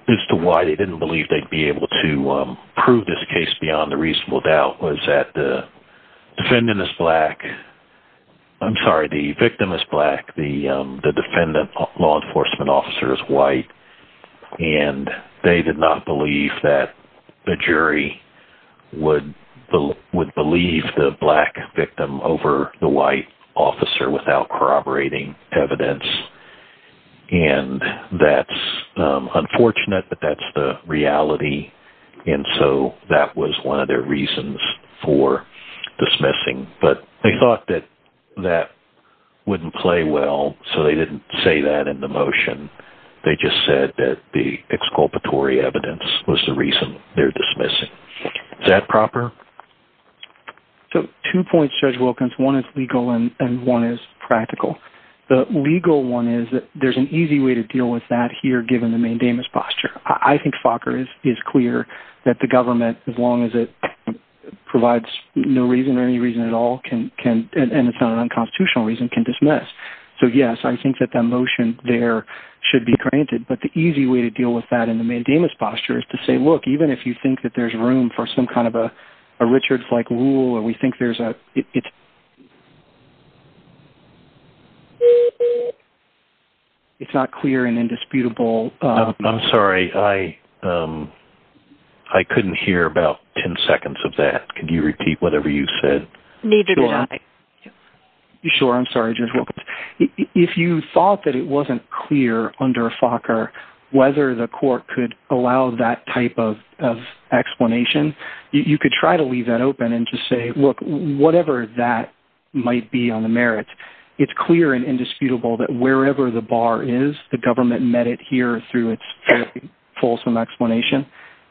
as to why they didn't believe they'd be able to prove this case beyond the reasonable doubt, was that the defendant is black, I'm sorry, the victim is black, the defendant law enforcement officer is white, and they did not believe that the jury would believe the black victim over the white officer without corroborating evidence. And that's unfortunate, but that's the reality. And so that was one of their reasons for dismissing. But they thought that that wouldn't play well, so they didn't say that in the motion. They just said that the exculpatory evidence was the reason they're dismissing. Is that proper? So two points, Judge Wilkins. One is legal and one is practical. The legal one is that there's an easy way to deal with that here, given the mandamus posture. I think Fokker is clear that the government, as long as it provides no reason, any reason at all, and it's not an unconstitutional reason, can dismiss. So yes, I think that that motion there should be granted, but the easy way to deal with that in the mandamus posture is to say, look, even if you think that there's room for some kind of a Richard-like rule, or we think there's a... It's not clear and indisputable. I'm sorry. I couldn't hear about 10 seconds of that. Could you repeat whatever you said? Neither did I. Sure. I'm sorry, Judge Wilkins. If you thought that it wasn't clear under Fokker whether the court could allow that type of explanation, you could try to leave that open and just say, look, whatever that might be on the merits, it's clear and indisputable that wherever the bar is, the government met it here through its fulsome explanation.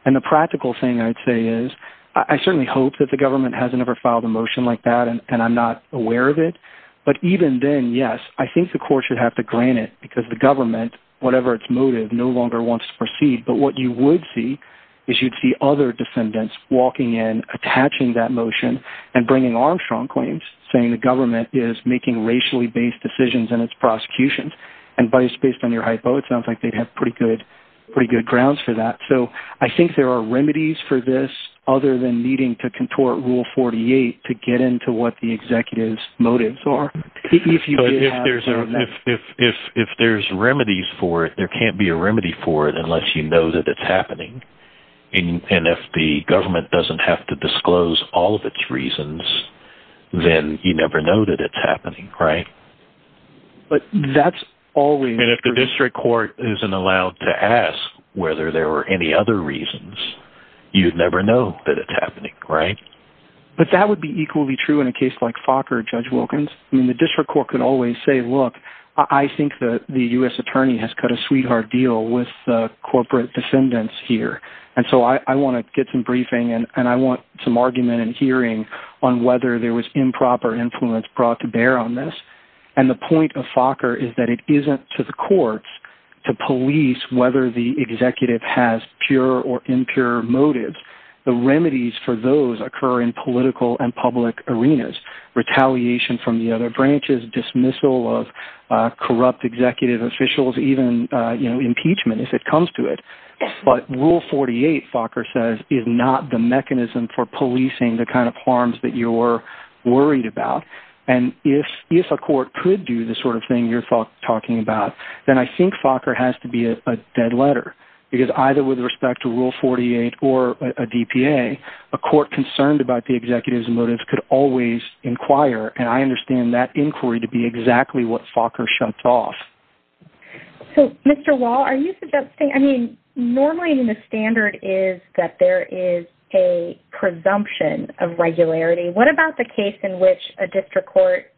And the practical thing I'd say is I certainly hope that the government hasn't ever filed a motion like that, and I'm not aware of it. But even then, yes, I think the court should have to grant it, because the government, whatever its motive, no longer wants to proceed. But what you would see is you'd see other defendants walking in, attaching that motion, and bringing on strong claims, saying the government is making racially-based decisions in its prosecution. And based on your hypo, it sounds like they'd have pretty good grounds for that. So I think there are remedies for this other than needing to contort Rule 48 to get into what the executive's motives are. If there's remedies for it, there can't be a remedy for it unless you know that it's happening. And if the government doesn't have to disclose all of its reasons, then you never know that it's happening, right? And if the district court isn't allowed to ask whether there were any other reasons, you'd never know that it's happening, right? But that would be equally true in a case like Fokker, Judge Wilkins. I mean, the district court can always say, look, I think the U.S. attorney has cut a sweetheart deal with the corporate defendants here. And so I want to get some briefing, and I want some argument and hearing on whether there was improper influence brought to bear on this. And the point of Fokker is that it isn't to the courts to police whether the executive has pure or impure motives. The remedies for those occur in political and public arenas. Retaliation from the other branches, dismissal of corrupt executive officials, even impeachment if it comes to it. But Rule 48, Fokker says, is not the mechanism for policing the kind of harms that you're worried about. And if a court could do the sort of thing you're talking about, then I think Fokker has to be a dead letter. Because either with respect to Rule 48 or a DPA, a court concerned about the executive's motives could always inquire. And I understand that inquiry to be exactly what Fokker shut off. So, Mr. Wall, are you suggesting, I mean, normally the standard is that there is a presumption of regularity. What about the case in which a district court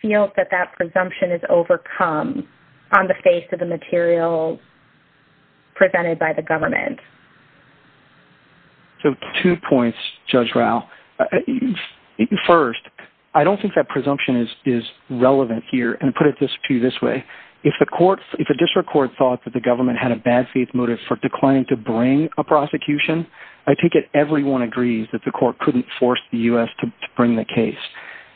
feels that that presumption is overcome on the face of the material presented by the government? So, two points, Judge Rao. First, I don't think that presumption is relevant here. And to put it to you this way, if a district court thought that the government had a bad faith motive for declining to bring a prosecution, I think that everyone agrees that the court couldn't force the U.S. to bring the case.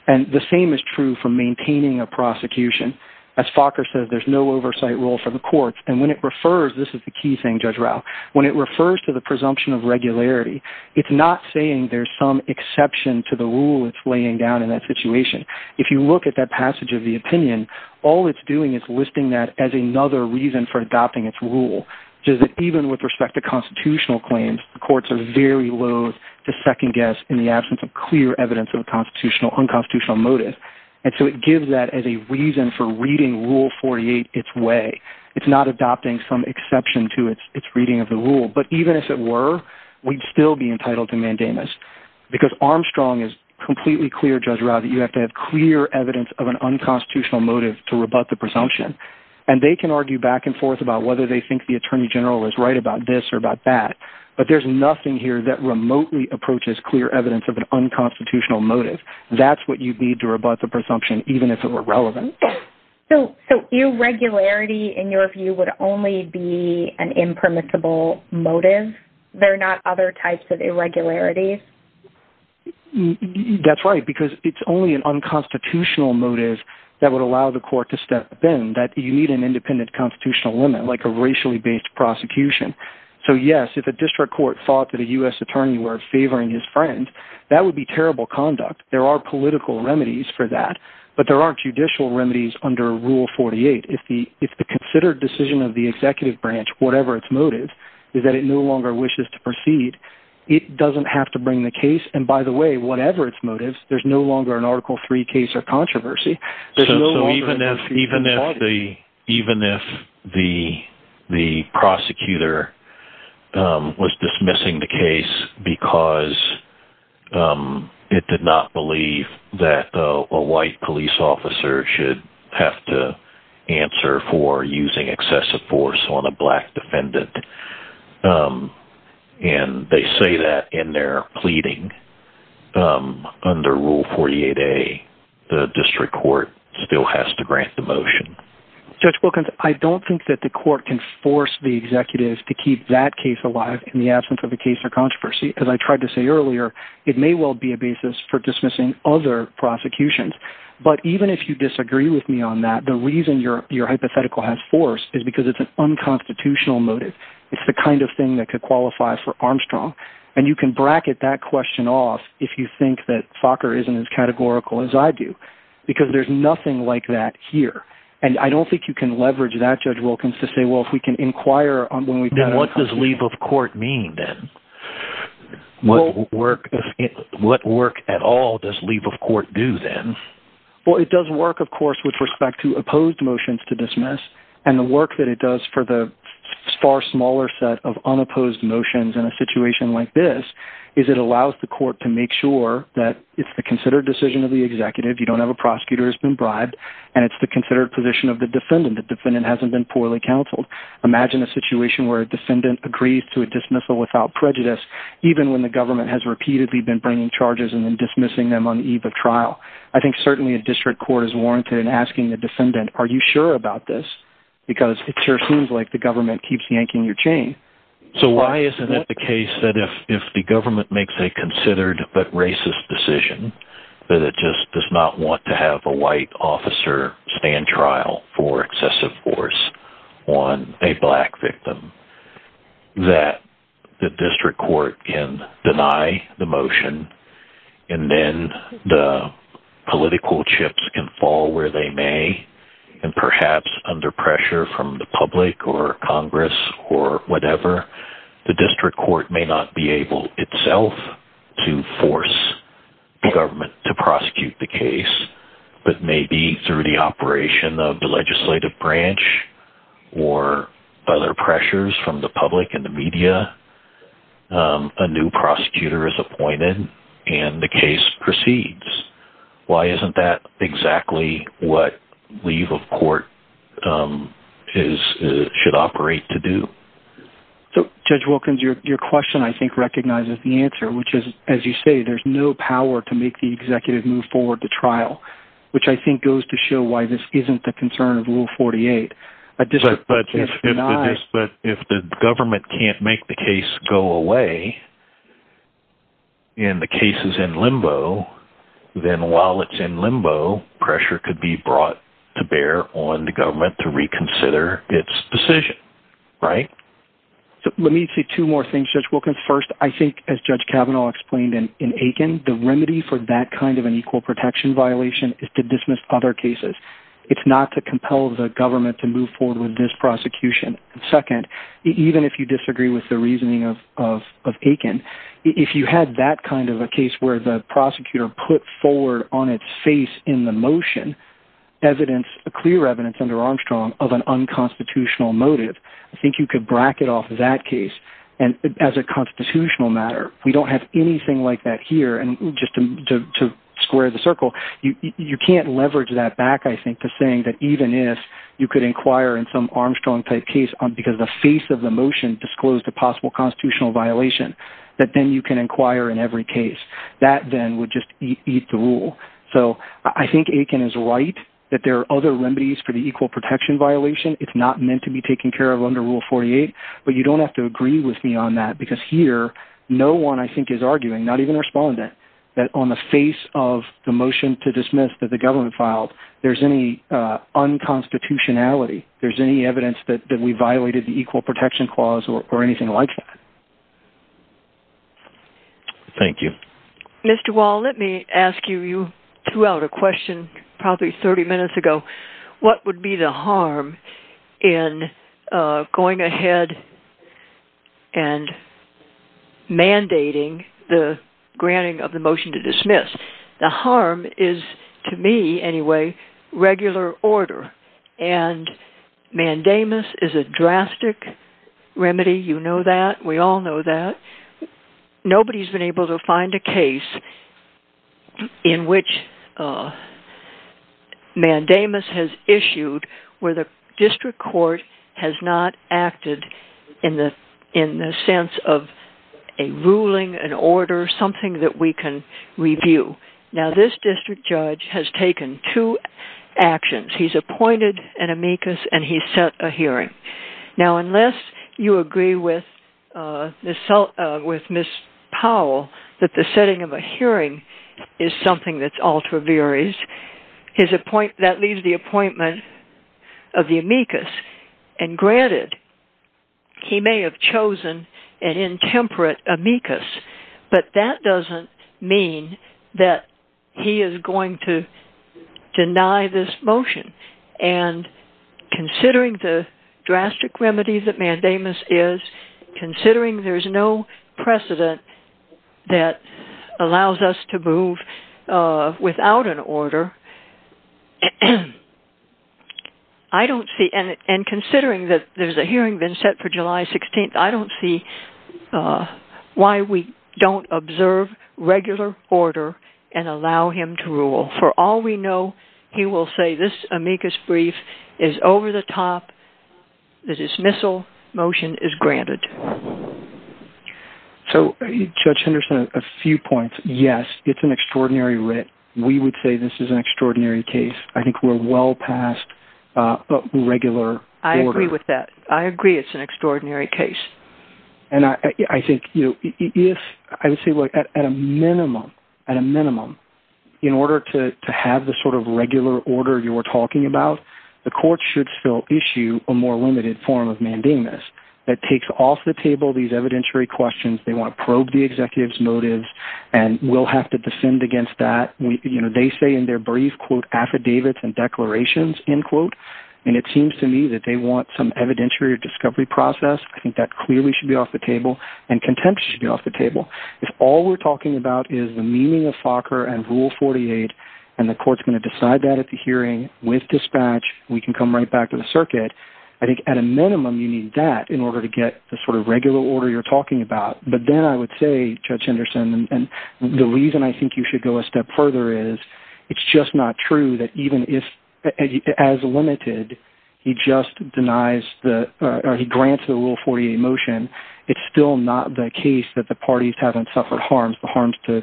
And the same is true for maintaining a prosecution. As Fokker says, there's no oversight rule for the courts. And when it refers, this is the key thing, Judge Rao, when it refers to the presumption of regularity, it's not saying there's some exception to the rule it's laying down in that situation. If you look at that passage of the opinion, all it's doing is listing that as another reason for adopting its rule. Even with respect to constitutional claims, the courts are very loathe to second guess in the absence of clear evidence of unconstitutional motive. And so it gives that as a reason for reading Rule 48 its way. It's not adopting some exception to its reading of the rule. But even if it were, we'd still be entitled to mandamus. Because Armstrong is completely clear, Judge Rao, that you have to have clear evidence of an unconstitutional motive to rebut the presumption. And they can argue back and forth about whether they think the Attorney General is right about this or about that. But there's nothing here that remotely approaches clear evidence of an unconstitutional motive. That's what you need to rebut the presumption, even if it were relevant. So irregularity, in your view, would only be an impermissible motive? There are not other types of irregularity? That's right, because it's only an unconstitutional motive that would allow the court to step in. That you need an independent constitutional limit, like a racially based prosecution. So yes, if a district court thought that a U.S. attorney were favoring his friend, that would be terrible conduct. There are political remedies for that. But there aren't judicial remedies under Rule 48. If the considered decision of the executive branch, whatever its motive, is that it no longer wishes to proceed, it doesn't have to bring the case. And by the way, whatever its motive, there's no longer an Article III case of controversy. So even if the prosecutor was dismissing the case because it did not believe that a white police officer should have to answer for using excessive force on a black defendant, and they say that in their pleading under Rule 48A, the district court still has to grant the motion. Judge Wilkins, I don't think that the court can force the executive to keep that case alive in the absence of a case of controversy. As I tried to say earlier, it may well be a basis for dismissing other prosecutions. But even if you disagree with me on that, the reason your hypothetical has force is because it's an unconstitutional motive. It's the kind of thing that could qualify for Armstrong. And you can bracket that question off if you think that Focker isn't as categorical as I do. Because there's nothing like that here. And I don't think you can leverage that, Judge Wilkins, to say, well, if we can inquire… What does leave of court mean, then? What work at all does leave of court do, then? Well, it does work, of course, with respect to opposed motions to dismiss. And the work that it does for the far smaller set of unopposed motions in a situation like this is it allows the court to make sure that it's a considered decision of the executive. You don't have a prosecutor who's been bribed. And it's the considered position of the defendant. The defendant hasn't been poorly counseled. Imagine a situation where a defendant agrees to a dismissal without prejudice, even when the government has repeatedly been bringing charges and then dismissing them on the eve of trial. I think certainly a district court is warranted in asking the defendant, are you sure about this? Because it sure seems like the government keeps yanking your chain. So why isn't it the case that if the government makes a considered but racist decision, that it just does not want to have a white officer stand trial for excessive force on a black victim, that the district court can deny the motion? And then the political chips can fall where they may, and perhaps under pressure from the public or Congress or whatever, the district court may not be able itself to force the government to prosecute the case. But maybe through the operation of the legislative branch or other pressures from the public and the media, a new prosecutor is appointed and the case proceeds. Why isn't that exactly what leave of court should operate to do? Judge Wilkins, your question I think recognizes the answer, which is, as you say, there's no power to make the executive move forward to trial, which I think goes to show why this isn't the concern of Rule 48. But if the government can't make the case go away, and the case is in limbo, then while it's in limbo, pressure could be brought to bear on the government to reconsider its decision, right? Let me say two more things, Judge Wilkins. First, I think as Judge Kavanaugh explained in Aiken, the remedy for that kind of an equal protection violation is to dismiss other cases. It's not to compel the government to move forward with this prosecution. Second, even if you disagree with the reasoning of Aiken, if you had that kind of a case where the prosecutor put forward on its face in the motion evidence, clear evidence under Armstrong of an unconstitutional motive, I think you could bracket off that case as a constitutional matter. We don't have anything like that here, and just to square the circle, you can't leverage that back, I think, to saying that even if you could inquire in some Armstrong-type case, because the face of the motion disclosed a possible constitutional violation, that then you can inquire in every case. That then would just eat the rule. I think Aiken is right that there are other remedies for the equal protection violation. It's not meant to be taken care of under Rule 48, but you don't have to agree with me on that, because here, no one, I think, is arguing, not even responding, that on the face of the motion to dismiss that the government filed, there's any unconstitutionality. There's any evidence that we violated the equal protection clause or anything like that. Thank you. Mr. Wall, let me ask you, you threw out a question probably 30 minutes ago. What would be the harm in going ahead and mandating the granting of the motion to dismiss? The harm is, to me, anyway, regular order, and mandamus is a drastic remedy. You know that. We all know that. Nobody's been able to find a case in which mandamus has issued where the district court has not acted in the sense of a ruling, an order, something that we can review. Now, this district judge has taken two actions. He's appointed an amicus, and he's set a hearing. Now, unless you agree with Ms. Powell that the setting of a hearing is something that's ultra viris, that leaves the appointment of the amicus. And granted, he may have chosen an intemperate amicus, but that doesn't mean that he is going to deny this motion. And considering the drastic remedy that mandamus is, considering there's no precedent that allows us to move without an order, and considering that there's a hearing been set for July 16th, I don't see why we don't observe regular order and allow him to rule. For all we know, he will say this amicus brief is over the top, the dismissal motion is granted. So, Judge Henderson, a few points. Yes, it's an extraordinary writ. We would say this is an extraordinary case. I think we're well past regular order. I agree with that. I agree it's an extraordinary case. And I think at a minimum, in order to have the sort of regular order you were talking about, the court should still issue a more limited form of mandamus. That takes off the table these evidentiary questions. They want to probe the executive's motives and will have to descend against that. They say in their brief, quote, affidavits and declarations, end quote, and it seems to me that they want some evidentiary discovery process. I think that clearly should be off the table, and contempt should be off the table. If all we're talking about is the meaning of FOCR and Rule 48, and the court's going to decide that at the hearing with dispatch, we can come right back to the circuit. I think at a minimum, you need that in order to get the sort of regular order you're talking about. But then I would say, Judge Henderson, and the reason I think you should go a step further is, it's just not true that even if, as limited, he just denies the, or he grants the Rule 48 motion, it's still not the case that the parties haven't suffered harms. The harms to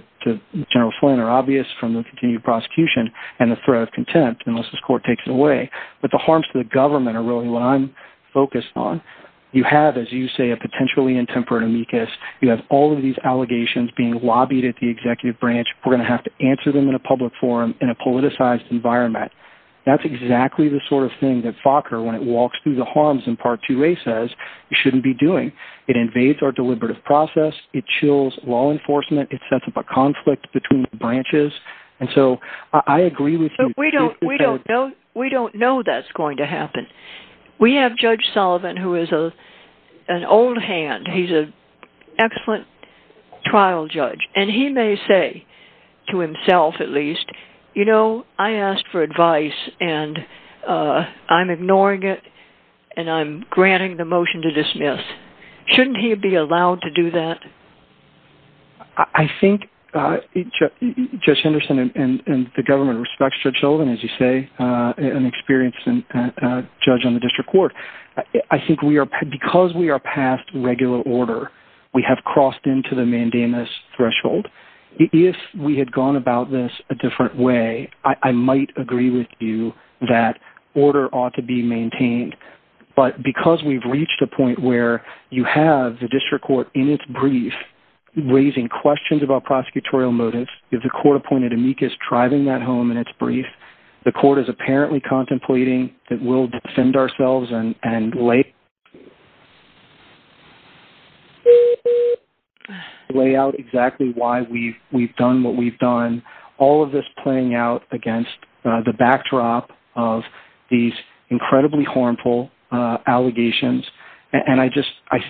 General Flynn are obvious from the continued prosecution and the threat of contempt, unless this court takes it away. But the harms to the government are really what I'm focused on. You have, as you say, a potentially intemperate amicus. You have all of these allegations being lobbied at the executive branch. We're going to have to answer them in a public forum in a politicized environment. That's exactly the sort of thing that FOCR, when it walks through the harms in Part 2A, says you shouldn't be doing. It invades our deliberative process. It chills law enforcement. It sets up a conflict between the branches, and so I agree with you. We don't know that's going to happen. We have Judge Sullivan, who is an old hand. He's an excellent trial judge, and he may say to himself, at least, you know, I asked for advice, and I'm ignoring it, and I'm granting the motion to dismiss. Shouldn't he be allowed to do that? I think Judge Henderson and the government respects Judge Sullivan, as you say, an experienced judge on the district court. I think because we are past regular order, we have crossed into the mandamus threshold. If we had gone about this a different way, I might agree with you that order ought to be maintained, but because we've reached a point where you have the district court in its brief raising questions about prosecutorial motives, if the court appointed amicus tribunum at home in its brief, the court is apparently contemplating that we'll defend ourselves and lay out exactly why we've done what we've done, all of this playing out against the backdrop of these incredibly harmful allegations, and I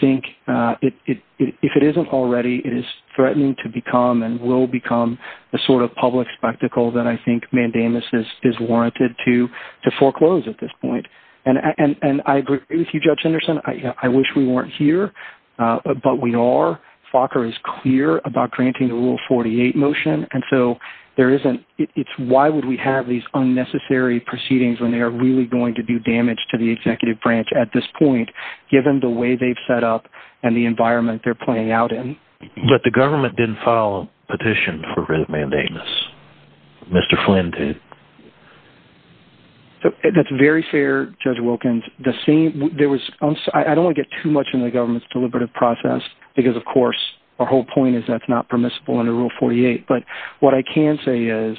think if it isn't already, it is threatening to become and will become the sort of public spectacle that I think mandamus is warranted to foreclose at this point, and I agree with you, Judge Henderson. I wish we weren't here, but we are. Fokker is clear about granting the Rule 48 motion, and so it's why would we have these unnecessary proceedings when they are really going to do damage to the executive branch at this point, given the way they've set up and the environment they're playing out in. But the government didn't file a petition for mandamus. Mr. Flynn did. That's very fair, Judge Wilkins. I don't want to get too much into the government's deliberative process, because of course our whole point is that's not permissible under Rule 48, but what I can say is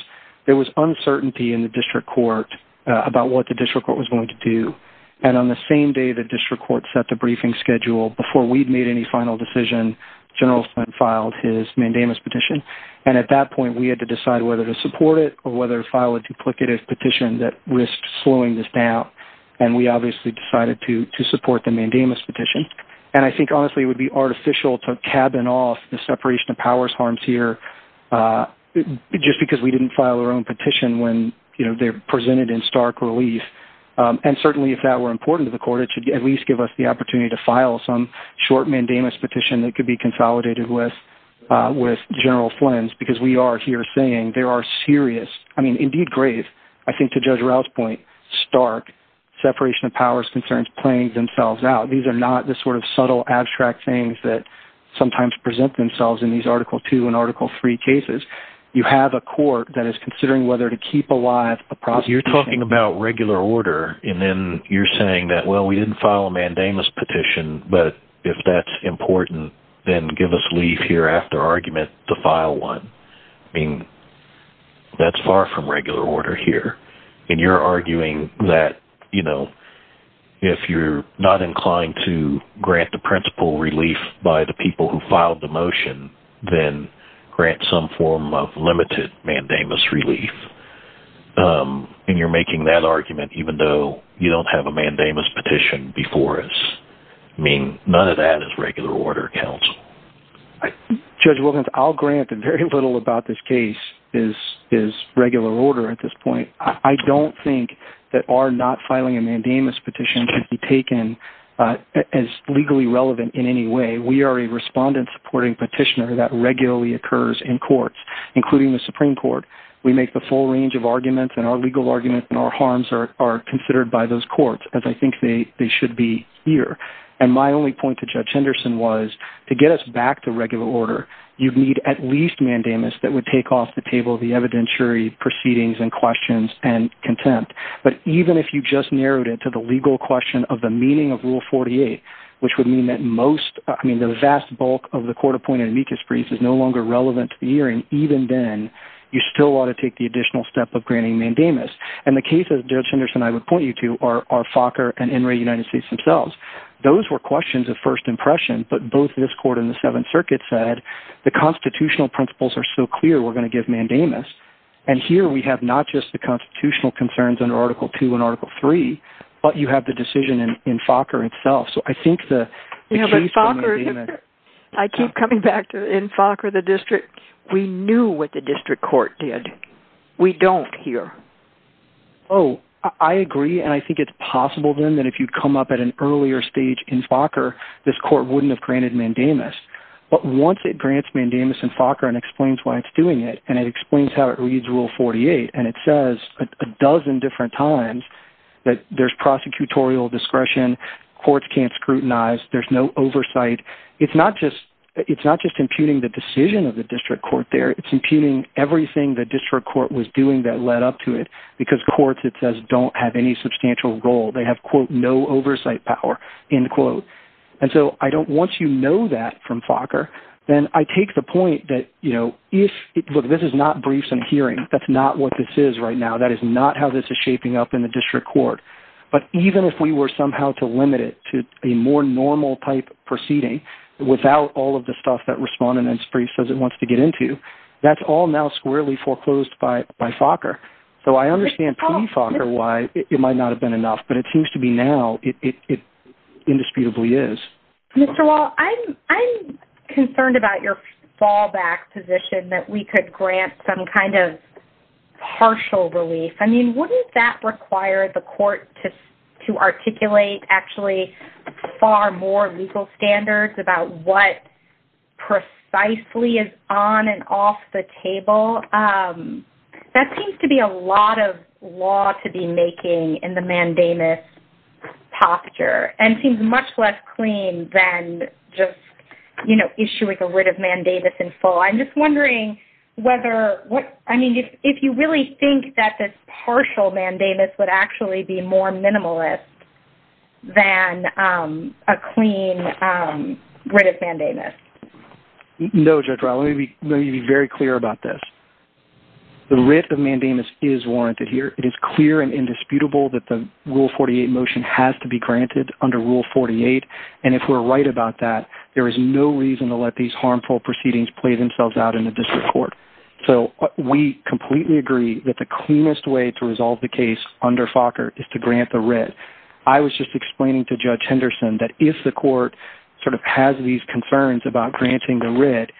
there was uncertainty in the district court about what the district court was going to do, and on the same day the district court set the briefing schedule before we'd made any final decision, General Flynn filed his mandamus petition, and at that point we had to decide whether to support it or whether to file a duplicative petition that risked slowing this down, and we obviously decided to support the mandamus petition. And I think honestly it would be artificial to cabin off the separation of powers harms here, just because we didn't file our own petition when they're presented in stark relief. And certainly if that were important to the court, it should at least give us the opportunity to file some short mandamus petition that could be consolidated with General Flynn's, because we are here saying there are serious, I mean indeed grave, I think to Judge Ralph's point, stark separation of powers concerns playing themselves out. These are not the sort of subtle abstract things that sometimes present themselves in these Article 2 and Article 3 cases. You have a court that is considering whether to keep alive the process. You're talking about regular order, and then you're saying that, well, we didn't file a mandamus petition, but if that's important, then give us leave here after argument to file one. I mean, that's far from regular order here. And you're arguing that if you're not inclined to grant the principal relief by the people who filed the motion, then grant some form of limited mandamus relief. And you're making that argument even though you don't have a mandamus petition before us. I mean, none of that is regular order counsel. Judge Wilkins, I'll grant that very little about this case is regular order at this point. I don't think that our not filing a mandamus petition can be taken as legally relevant in any way. We are a respondent-supporting petitioner that regularly occurs in courts, including the Supreme Court. We make the full range of arguments, and our legal arguments and our harms are considered by those courts, as I think they should be here. And my only point to Judge Henderson was to get us back to regular order, you'd need at least mandamus that would take off the table of the evidentiary proceedings and questions and contempt. But even if you just narrowed it to the legal question of the meaning of Rule 48, which would mean that most, I mean, the vast bulk of the court-appointed amicus briefs is no longer relevant to the hearing, even then you still ought to take the additional step of granting mandamus. And the case that Judge Henderson and I would point you to are Focker and Inouye United States themselves. Those were questions of first impression, but both this court and the Seventh Circuit said, the constitutional principles are so clear we're going to give mandamus, and here we have not just the constitutional concerns under Article II and Article III, but you have the decision in Focker itself. I keep coming back to in Focker, the district, we knew what the district court did. We don't here. Oh, I agree, and I think it's possible then that if you come up at an earlier stage in Focker, this court wouldn't have granted mandamus. But once it grants mandamus in Focker and explains why it's doing it, and it explains how it reads Rule 48, and it says a dozen different times that there's prosecutorial discretion, courts can't scrutinize, there's no oversight. It's not just imputing the decision of the district court there. It's imputing everything the district court was doing that led up to it, because courts, it says, don't have any substantial role. They have, quote, no oversight power, end quote. And so I don't want you to know that from Focker. And I take the point that, you know, look, this is not briefs and hearings. That's not what this is right now. That is not how this is shaping up in the district court. But even if we were somehow to limit it to a more normal-type proceeding, without all of the stuff that Respondent in its brief says it wants to get into, that's all now squarely foreclosed by Focker. So I understand pre-Focker why it might not have been enough, but it seems to me now it indisputably is. Mr. Wall, I'm concerned about your fallback position that we could grant some kind of partial relief. I mean, wouldn't that require the court to articulate, actually, far more legal standards about what precisely is on and off the table? That seems to be a lot of law to be making in the mandamus posture and seems much less clean than just, you know, issue with a writ of mandamus in full. I'm just wondering whether, I mean, if you really think that this partial mandamus would actually be more minimalist than a clean writ of mandamus. No, Judge Rowe. Let me be very clear about this. The writ of mandamus is warranted here. It is clear and indisputable that the Rule 48 motion has to be granted under Rule 48, and if we're right about that, there is no reason to let these harmful proceedings play themselves out in the district court. So we completely agree that the cleanest way to resolve the case under Focker is to grant the writ. I was just explaining to Judge Henderson that if the court sort of has these concerns about granting the writ,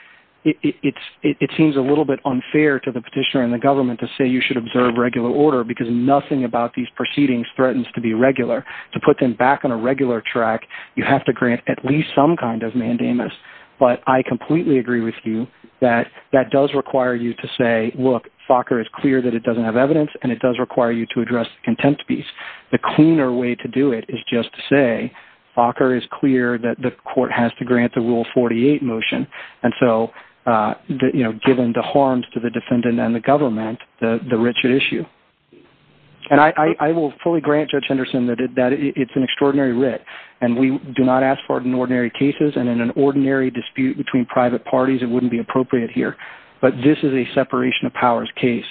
it seems a little bit unfair to the petitioner and the government to say you should observe regular order because nothing about these proceedings threatens to be regular. To put them back on a regular track, you have to grant at least some kind of mandamus, but I completely agree with you that that does require you to say, look, Focker is clear that it doesn't have evidence and it does require you to address the contempt piece. The cleaner way to do it is just to say Focker is clear that the court has to grant the Rule 48 motion, and so, you know, giving the harms to the defendant and the government, the richer issue. And I will fully grant Judge Henderson that it's an extraordinary writ, and we do not ask for it in ordinary cases and in an ordinary dispute between private parties, it wouldn't be appropriate here, but this is a separation of powers case.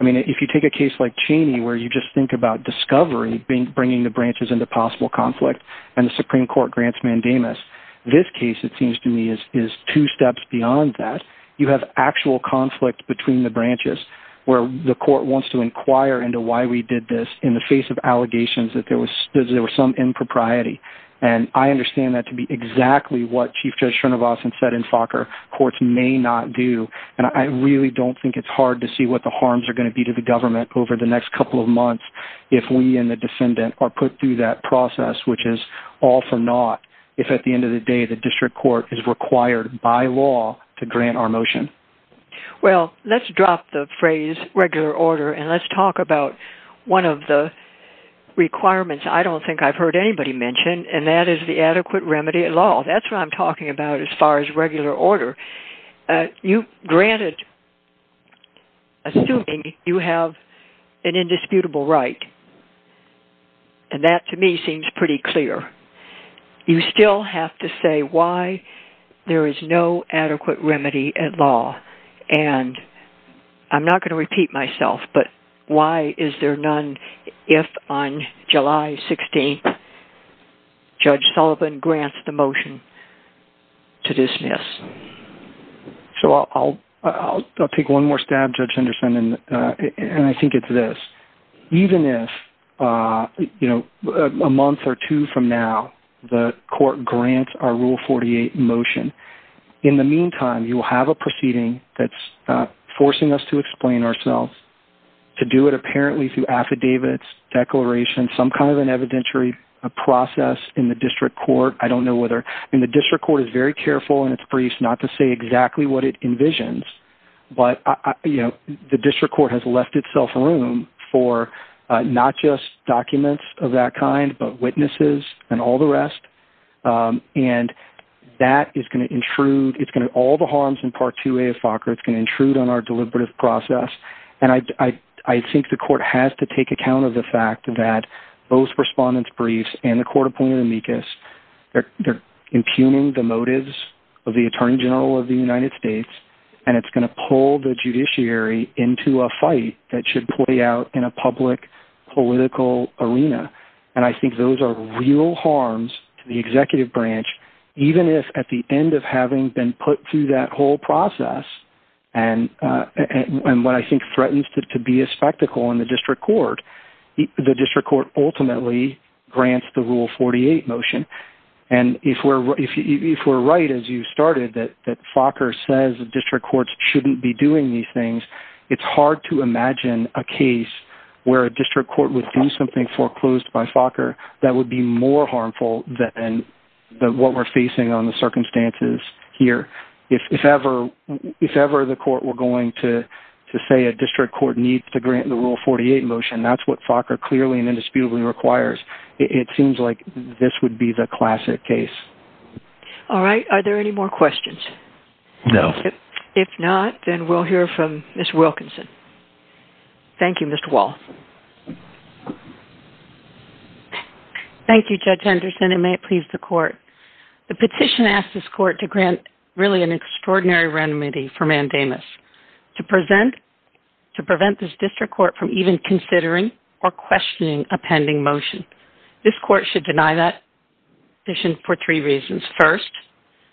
I mean, if you take a case like Cheney where you just think about discovery, bringing the branches into possible conflict, and the Supreme Court grants mandamus, this case, it seems to me, is two steps beyond that. You have actual conflict between the branches where the court wants to inquire into why we did this in the face of allegations that there was some impropriety, and I understand that to be exactly what Chief Judge Schernervos said in Focker courts may not do, and I really don't think it's hard to see what the harms are going to be to the government over the next couple of months if we and the defendant are put through that process, which is all for naught if at the end of the day the district court is required by law to grant our motion. Well, let's drop the phrase regular order and let's talk about one of the requirements I don't think I've heard anybody mention, and that is the adequate remedy at law. That's what I'm talking about as far as regular order. You grant it assuming you have an indisputable right, and that to me seems pretty clear. You still have to say why there is no adequate remedy at law, and I'm not going to repeat myself, but why is there none if on July 16th Judge Sullivan grants the motion to dismiss? So I'll take one more stab, Judge Henderson, and I think it's this. Even if a month or two from now the court grants our Rule 48 motion, in the meantime you will have a proceeding that's forcing us to explain ourselves, to do it apparently through affidavits, declarations, some kind of an evidentiary process in the district court. I don't know whether, and the district court is very careful in its briefs not to say exactly what it envisions, but the district court has left itself room for not just documents of that kind, but witnesses and all the rest, and that is going to intrude, it's going to, all the harms in Part 2A of FACRA, it's going to intrude on our deliberative process, and I think the court has to take account of the fact that both respondents' briefs and the court opinion in MECAS, they're impugning the motives of the Attorney General of the United States, and it's going to pull the judiciary into a fight that should play out in a public political arena, and I think those are real harms to the executive branch, even if at the end of having been put through that whole process, and what I think threatens to be a spectacle in the district court, the district court ultimately grants the Rule 48 motion, and if we're right, as you started, that FACRA says district courts shouldn't be doing these things, it's hard to imagine a case where a district court would do something foreclosed by FACRA that would be more harmful than what we're facing on the circumstances here. If ever the court were going to say a district court needs to grant the Rule 48 motion, that's what FACRA clearly and indisputably requires. It seems like this would be the classic case. All right, are there any more questions? No. If not, then we'll hear from Ms. Wilkinson. Thank you, Mr. Wall. Thank you, Judge Anderson, and may it please the court. The petition asks this court to grant really an extraordinary remedy for mandamus, to prevent this district court from even considering or questioning a pending motion. This court should deny that petition for three reasons. First,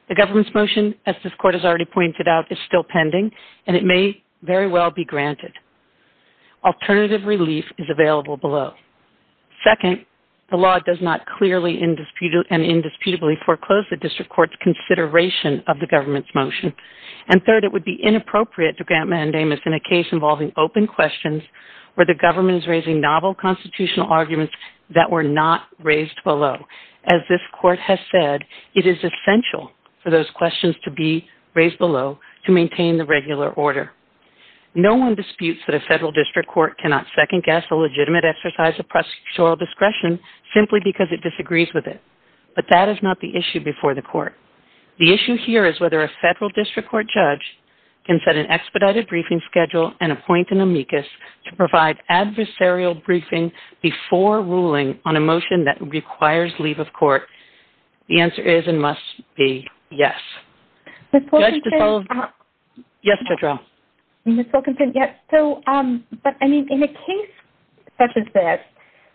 the government's motion, as this court has already pointed out, is still pending, and it may very well be granted. Alternative relief is available below. Second, the law does not clearly and indisputably foreclose the district court's consideration of the government's motion. And third, it would be inappropriate to grant mandamus in a case involving open questions where the government is raising novel constitutional arguments that were not raised below. As this court has said, it is essential for those questions to be raised below to maintain the regular order. No one disputes that a federal district court cannot second-guess a legitimate exercise of procedural discretion simply because it disagrees with it, but that is not the issue before the court. The issue here is whether a federal district court judge can set an expedited briefing schedule and appoint an amicus to provide adversarial briefing before ruling on a motion that requires leave of court. The answer is and must be yes. Judge DeSoto? Yes, Petra. Ms. Wilkinson, yes. So, but I mean, in a case such as this,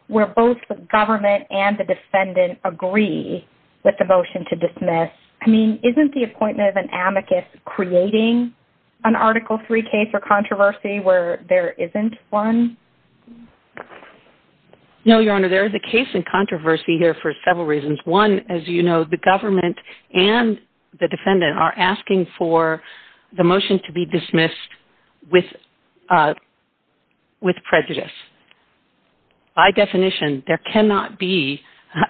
where both the government and the defendant agree with the motion to dismiss, I mean, isn't the appointment of an amicus creating an Article III case or controversy where there isn't one? No, Your Honor, there is a case in controversy here for several reasons. One, as you know, the government and the defendant are asking for the motion to be dismissed with prejudice. By definition, there cannot be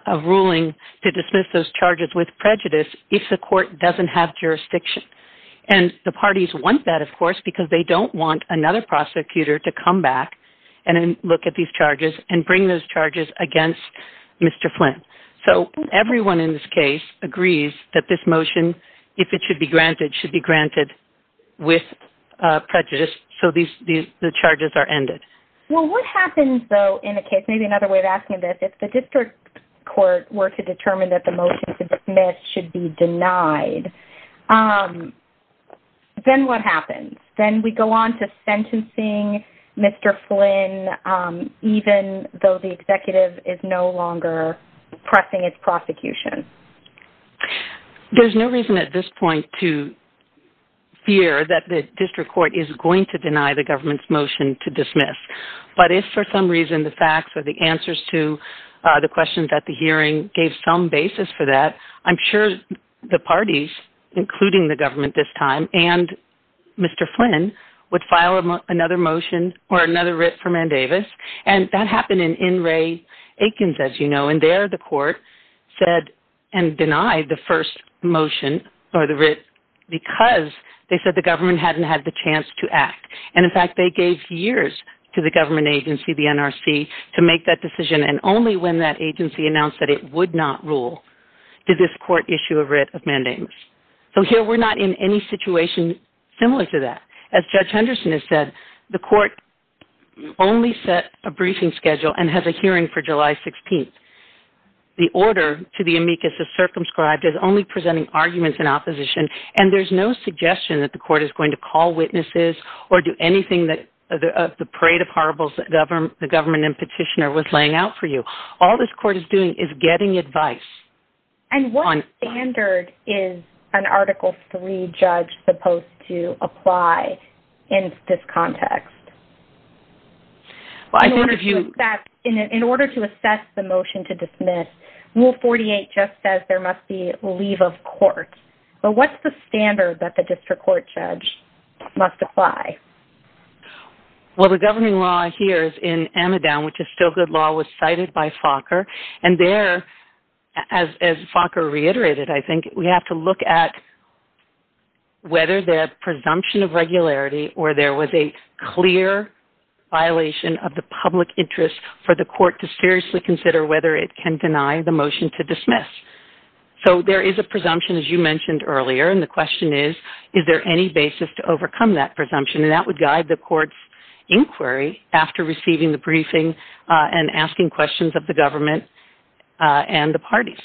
a ruling to dismiss those charges with prejudice if the court doesn't have jurisdiction. And the parties want that, of course, because they don't want another prosecutor to come back and look at these charges and bring those charges against Mr. Flynn. So, everyone in this case agrees that this motion, if it should be granted, should be granted with prejudice so the charges are ended. Well, what happens, though, in a case, maybe another way of asking this, if the district court were to determine that the motion to dismiss should be denied, then what happens? Then we go on to sentencing Mr. Flynn, even though the executive is no longer pressing its prosecution. There's no reason at this point to fear that the district court is going to deny the government's motion to dismiss. But if for some reason the facts or the answers to the questions at the hearing gave some basis for that, I'm sure the parties, including the government this time and Mr. Flynn, would file another motion or another writ for Mandavis. And that happened in Ray Aikens, as you know. And there the court said and denied the first motion or the writ because they said the government hadn't had the chance to act. And in fact, they gave years to the government agency, the NRC, to make that decision. And only when that agency announced that it would not rule did this court issue a writ of Mandavis. So here we're not in any situation similar to that. As Judge Henderson has said, the court only set a briefing schedule and has a hearing for July 16th. The order to the amicus is circumscribed as only presenting arguments in opposition. And there's no suggestion that the court is going to call witnesses or do anything of the parade of horribles that the government and petitioner was laying out for you. All this court is doing is getting advice. And what standard is an Article III judge supposed to apply in this context? In order to assess the motion to dismiss, Rule 48 just says there must be leave of court. But what's the standard that the district court judge must apply? Well, the governing law here is in Amidam, which is still good law, was cited by Falker. And there, as Falker reiterated, I think, we have to look at whether that presumption of regularity or there was a clear violation of the public interest for the court to seriously consider whether it can deny the motion to dismiss. So there is a presumption, as you mentioned earlier. And the question is, is there any basis to overcome that presumption? And that would guide the court's inquiry after receiving the briefing and asking questions of the government and the parties.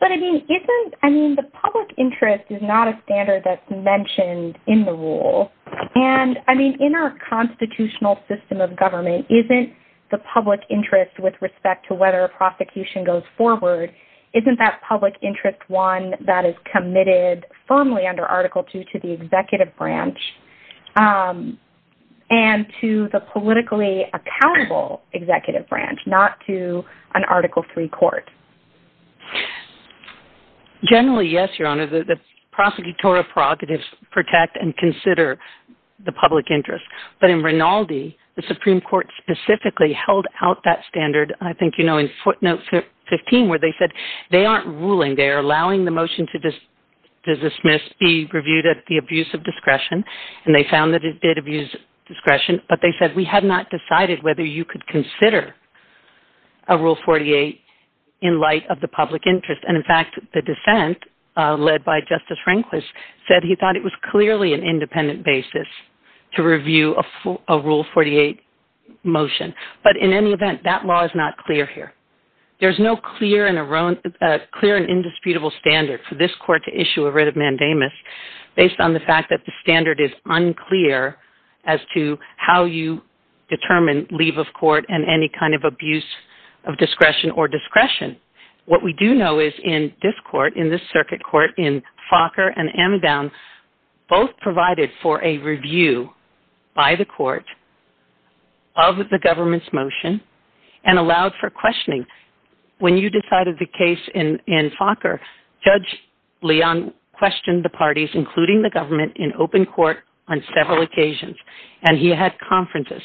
But, I mean, isn't – I mean, the public interest is not a standard that's mentioned in the rule. And, I mean, in our constitutional system of government, isn't the public interest with respect to whether prosecution goes forward, isn't that public interest one that is committed firmly under Article II to the executive branch and to the politically accountable executive branch, not to an Article III court? Generally, yes, Your Honor. The prosecutorial prerogatives protect and consider the public interest. But in Rinaldi, the Supreme Court specifically held out that standard, I think you know, in footnote 15 where they said they aren't ruling. They are allowing the motion to dismiss be reviewed at the abuse of discretion. And they found that it did abuse discretion. But they said we have not decided whether you could consider a Rule 48 in light of the public interest. And, in fact, the defense led by Justice Rehnquist said he thought it was clearly an independent basis to review a Rule 48 motion. But in any event, that law is not clear here. There's no clear and indisputable standard for this court to issue a writ of mandamus based on the fact that the standard is unclear as to how you determine leave of court and any kind of abuse of discretion or discretion. What we do know is in this court, in this circuit court, in Fokker and Amedown, both provided for a review by the court of the government's motion and allowed for questioning. When you decided the case in Fokker, Judge Leon questioned the parties, including the government, in open court on several occasions. And he had conferences.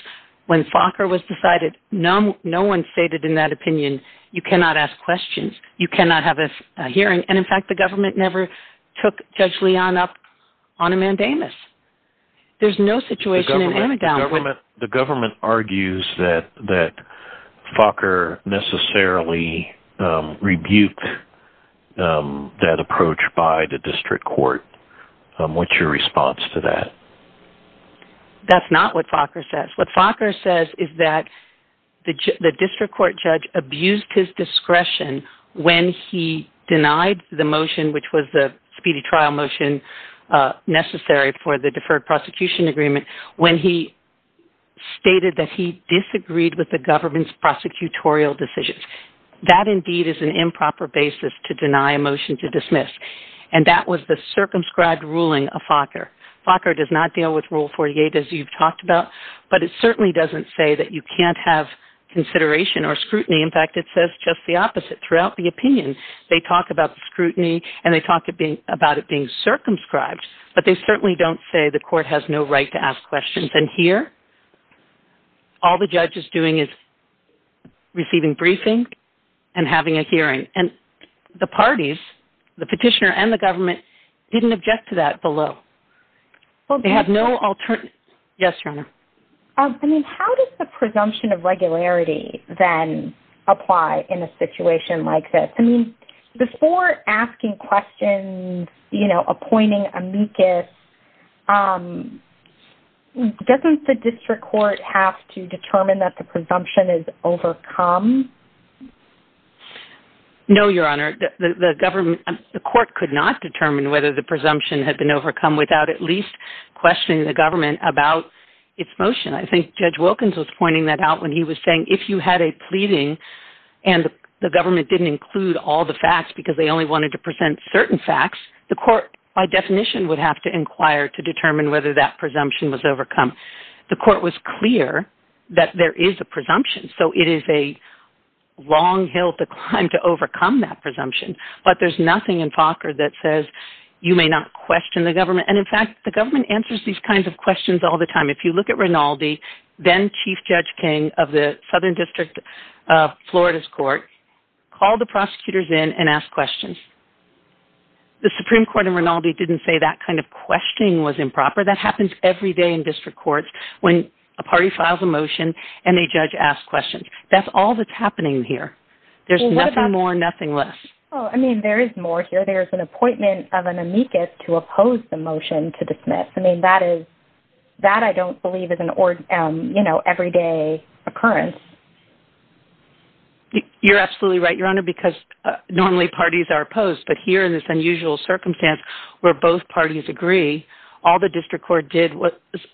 When Fokker was decided, no one stated in that opinion, you cannot ask questions. You cannot have a hearing. And, in fact, the government never took Judge Leon up on a mandamus. There's no situation in Amedown. The government argues that Fokker necessarily rebuked that approach by the district court. What's your response to that? That's not what Fokker says. What Fokker says is that the district court judge abused his discretion when he denied the motion, which was the speedy trial motion necessary for the deferred prosecution agreement, when he stated that he disagreed with the government's prosecutorial decisions. That, indeed, is an improper basis to deny a motion to dismiss. And that was the circumscribed ruling of Fokker. Fokker does not deal with Rule 48, as you've talked about. But it certainly doesn't say that you can't have consideration or scrutiny. In fact, it says just the opposite throughout the opinion. They talk about scrutiny, and they talk about it being circumscribed. But they certainly don't say the court has no right to ask questions. And here, all the judge is doing is receiving briefing and having a hearing. And the parties, the petitioner and the government, didn't object to that below. They have no alternative. Yes, Sharma? I mean, how does the presumption of regularity then apply in a situation like this? I mean, before asking questions, you know, appointing amicus, doesn't the district court have to determine that the presumption is overcome? No, Your Honor. The court could not determine whether the presumption had been overcome without at least questioning the government about its motion. I think Judge Wilkins was pointing that out when he was saying if you had a pleading and the government didn't include all the facts because they only wanted to present certain facts, the court, by definition, would have to inquire to determine whether that presumption was overcome. The court was clear that there is a presumption. So it is a long hill to climb to overcome that presumption. But there's nothing in Fokker that says you may not question the government. And, in fact, the government answers these kinds of questions all the time. If you look at Rinaldi, then Chief Judge King of the Southern District of Florida's court, called the prosecutors in and asked questions. The Supreme Court in Rinaldi didn't say that kind of questioning was improper. That happens every day in district courts when a party files a motion and a judge asks questions. That's all that's happening here. There's nothing more and nothing less. I mean, there is more here. There's an appointment of an amicus to oppose the motion to dismiss. I mean, that I don't believe is an everyday occurrence. You're absolutely right, Your Honor, because normally parties are opposed. But here in this unusual circumstance where both parties agree, all the district court did was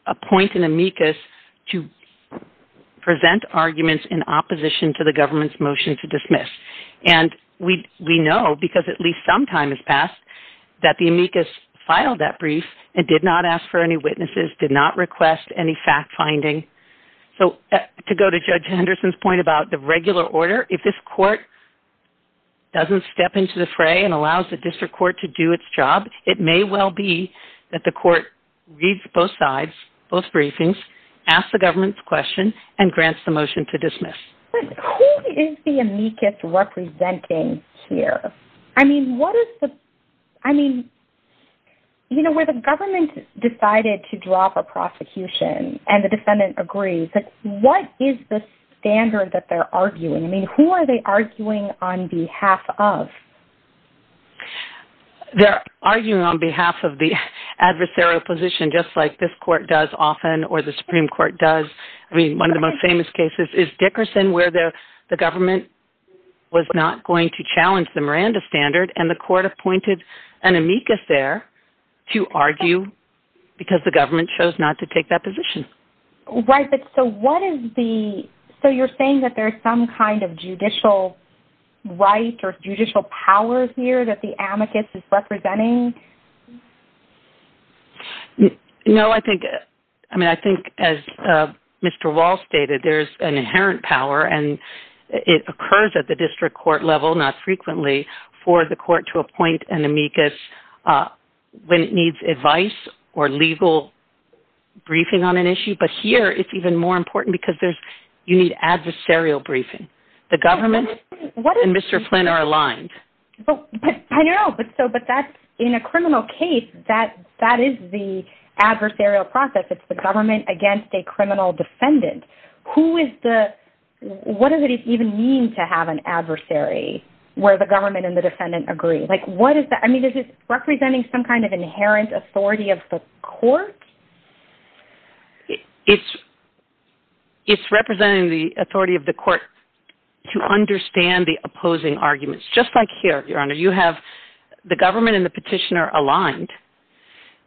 appoint an amicus to present arguments in opposition to the government's motion to dismiss. And we know, because at least some time has passed, that the amicus filed that brief and did not ask for any witnesses, did not request any fact-finding. So, to go to Judge Henderson's point about the regular order, if this court doesn't step into the fray and allows the district court to do its job, it may well be that the court reads both sides, both briefings, asks the government's question, and grants the motion to dismiss. But who is the amicus representing here? I mean, what is the – I mean, you know, where the government decided to draw for prosecution and the defendant agrees, what is the standard that they're arguing? I mean, who are they arguing on behalf of? They're arguing on behalf of the adversarial position, just like this court does often or the Supreme Court does. I mean, one of the most famous cases is Dickerson, where the government was not going to challenge the Miranda standard, and the court appointed an amicus there to argue because the government chose not to take that position. Right, but so what is the – so you're saying that there's some kind of judicial right or judicial power here that the amicus is representing? No, I think – I mean, I think, as Mr. Walsh stated, there's an inherent power, and it occurs at the district court level, not frequently, for the court to appoint an amicus when it needs advice or legal briefing on an issue. But here, it's even more important because there's – you need adversarial briefing. The government and Mr. Flynn are aligned. I know, but so – but that's – in a criminal case, that is the adversarial process. It's the government against a criminal defendant. Who is the – what does it even mean to have an adversary where the government and the defendant agree? Like, what is the – I mean, is it representing some kind of inherent authority of the court? It's representing the authority of the court to understand the opposing arguments. Just like here, Your Honor, you have the government and the petitioner aligned,